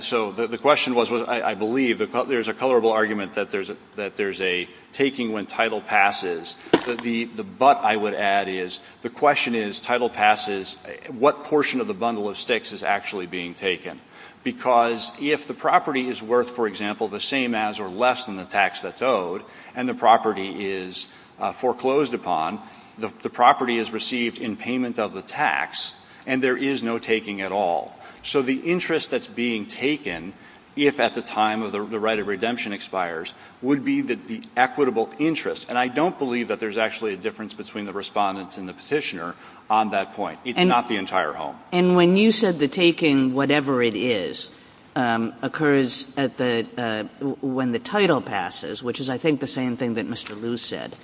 So the question was, I believe, there's a colorable argument that there's a taking when title passes. The but, I would add, is the question is, title passes, what portion of the bundle of sticks is actually being taken? Because if the property is worth, for example, the same as or less than the tax that's owed, and the property is foreclosed upon, the property is received in payment of the tax, and there is no taking at all. So the interest that's being taken, if at the time of the right of redemption expires, would be the equitable interest. And I don't believe that there's actually a difference between the respondents and the petitioner on that point. It's not the entire home. And when you said the taking, whatever it is, occurs when the title passes, which is, I think, the same thing that Mr. Liu said,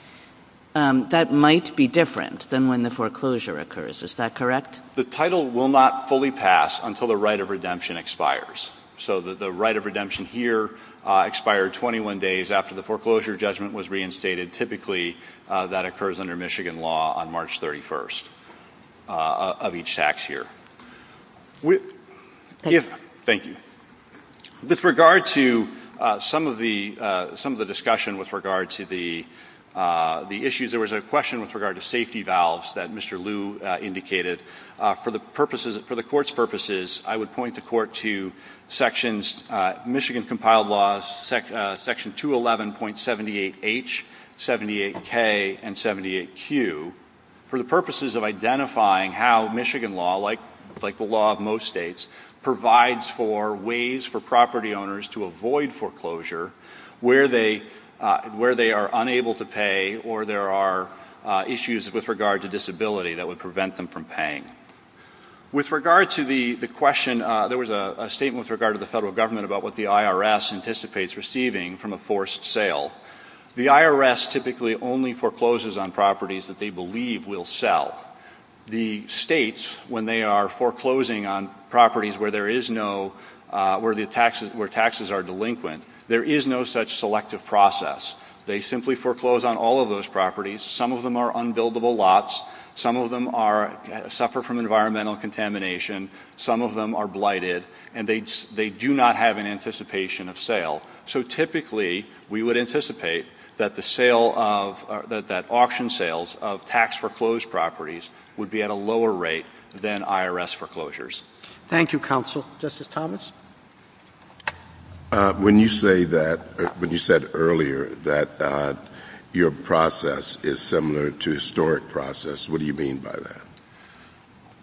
that might be different than when the foreclosure occurs. Is that correct? The title will not fully pass until the right of redemption expires. So the right of redemption here expired 21 days after the foreclosure judgment was reinstated. Typically, that occurs under Michigan law on March 31st of each tax year. Thank you. With regard to some of the discussion with regard to the issues, there was a question with regard to safety valves that Mr. Liu indicated. For the Court's purposes, I would point the Court to sections, Michigan compiled laws section 211.78h, 78k, and 78q, for the purposes of identifying how Michigan law, like the law of most states, provides for ways for property owners to avoid foreclosure where they are unable to pay or there are issues with regard to disability that would prevent them from paying. With regard to the question, there was a statement with regard to the federal government about what the IRS anticipates receiving from a forced sale. The IRS typically only forecloses on properties that they believe will sell. The states, when they are foreclosing on properties where taxes are delinquent, there is no such selective process. They simply foreclose on all of those properties. Some of them are unbuildable lots. Some of them suffer from environmental contamination. Some of them are blighted. And they do not have an anticipation of sale. So typically, we would anticipate that auction sales of tax-for-closed properties would be at a lower rate than IRS foreclosures. Thank you, Counsel. Justice Thomas? When you said earlier that your process is similar to a historic process, what do you mean by that?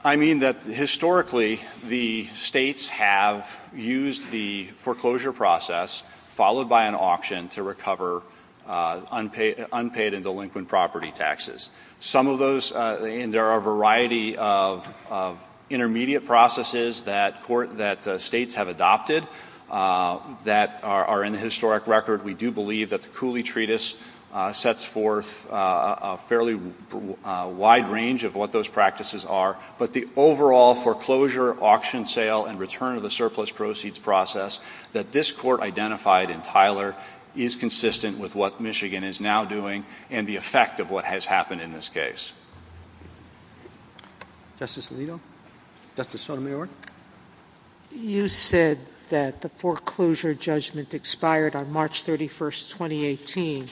I mean that historically the states have used the foreclosure process followed by an auction to recover unpaid and delinquent property taxes. Some of those, and there are a variety of intermediate processes that states have adopted that are in the historic record. We do believe that the Cooley Treatise sets forth a fairly wide range of what those practices are. But the overall foreclosure, auction, sale, and return of the surplus proceeds process that this Court identified in Tyler is consistent with what Michigan is now doing and the effect of what has happened in this case. Justice Alito? Justice Sotomayor? You said that the foreclosure judgment expired on March 31, 2018.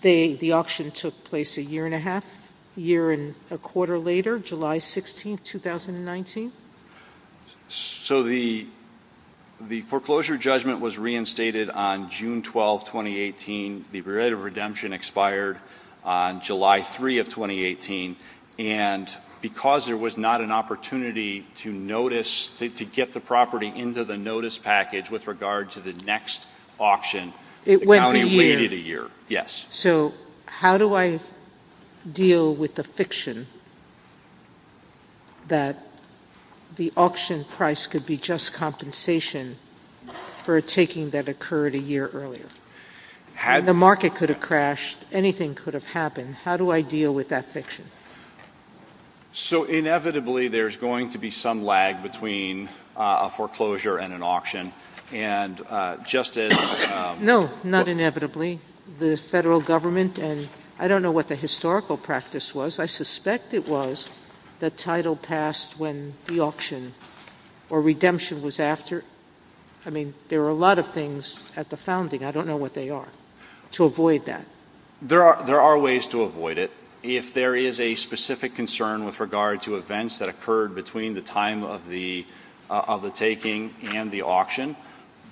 The auction took place a year and a half, a year and a quarter later, July 16, 2019? So the foreclosure judgment was reinstated on June 12, 2018. The period of redemption expired on July 3 of 2018. And because there was not an opportunity to get the property into the notice package with regard to the next auction, the county waited a year. So how do I deal with the fiction that the auction price could be just compensation for a taking that occurred a year earlier? The market could have crashed. Anything could have happened. How do I deal with that fiction? So inevitably there's going to be some lag between a foreclosure and an auction. And Justice— No, not inevitably. The federal government and I don't know what the historical practice was. I suspect it was the title passed when the auction or redemption was after. I mean, there are a lot of things at the founding. I don't know what they are. To avoid that. There are ways to avoid it. If there is a specific concern with regard to events that occurred between the time of the taking and the auction,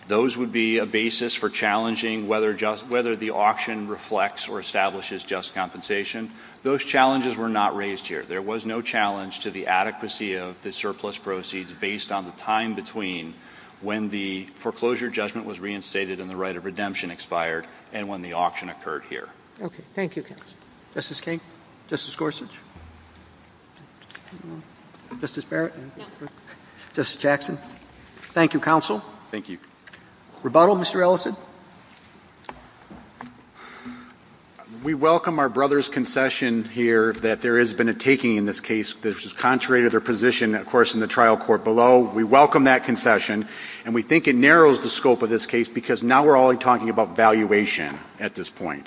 those would be a basis for challenging whether the auction reflects or establishes just compensation. Those challenges were not raised here. There was no challenge to the adequacy of the surplus proceeds based on the time between when the foreclosure judgment was reinstated and the right of redemption expired and when the auction occurred here. Okay. Thank you, counsel. Justice King? Justice Gorsuch? Justice Barrett? Justice Jackson? Thank you, counsel. Thank you. Rebuttal, Mr. Ellison? We welcome our brother's concession here that there has been a taking in this case which is contrary to their position, of course, in the trial court below. We welcome that concession. And we think it narrows the scope of this case because now we're only talking about valuation at this point.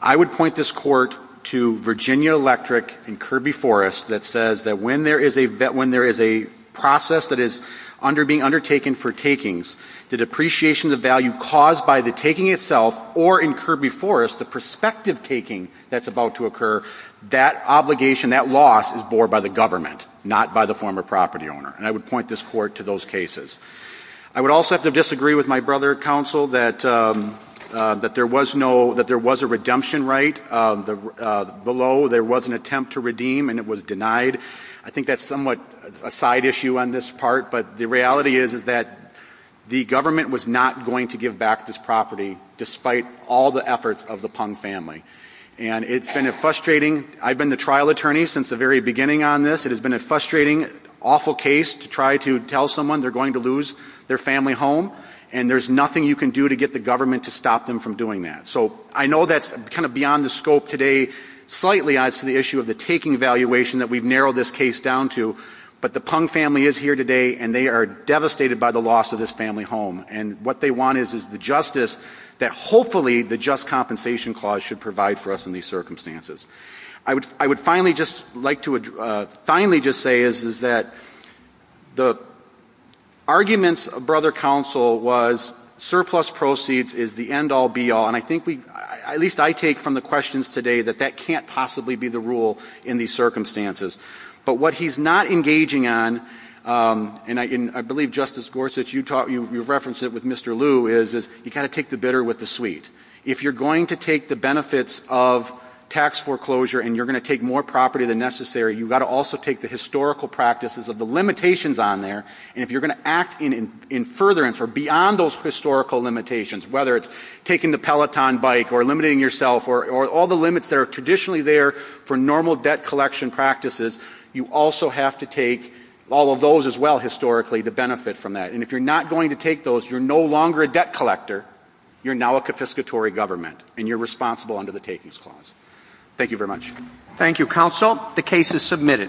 I would point this court to Virginia Electric and Kirby Forest that says that when there is a process that is being undertaken for takings, the depreciation of value caused by the taking itself or in Kirby Forest the prospective taking that's about to occur, that obligation, that loss is borne by the government, not by the former property owner. And I would point this court to those cases. I would also have to disagree with my brother, counsel, that there was a redemption right below. There was an attempt to redeem and it was denied. I think that's somewhat a side issue on this part, but the reality is that the government was not going to give back this property despite all the efforts of the Pung family. And it's been a frustrating – I've been the trial attorney since the very beginning on this. It has been a frustrating, awful case to try to tell someone they're going to lose their family home, and there's nothing you can do to get the government to stop them from doing that. So I know that's kind of beyond the scope today slightly as to the issue of the taking valuation that we've narrowed this case down to, but the Pung family is here today and they are devastated by the loss of this family home. And what they want is the justice that hopefully the Just Compensation Clause should provide for us in these circumstances. I would finally just like to finally just say is that the arguments of Brother Counsel was surplus proceeds is the end-all, be-all, and I think at least I take from the questions today that that can't possibly be the rule in these circumstances. But what he's not engaging on, and I believe Justice Gorsuch, you've referenced it with Mr. Liu, is you've got to take the bitter with the sweet. If you're going to take the benefits of tax foreclosure and you're going to take more property than necessary, you've got to also take the historical practices of the limitations on there, and if you're going to act in furtherance or beyond those historical limitations, whether it's taking the Peloton bike or eliminating yourself or all the limits that are traditionally there for normal debt collection practices, you also have to take all of those as well historically to benefit from that. And if you're not going to take those, you're no longer a debt collector, you're now a confiscatory government, and you're responsible under the Takings Clause. Thank you very much. Thank you, Counsel. The case is submitted.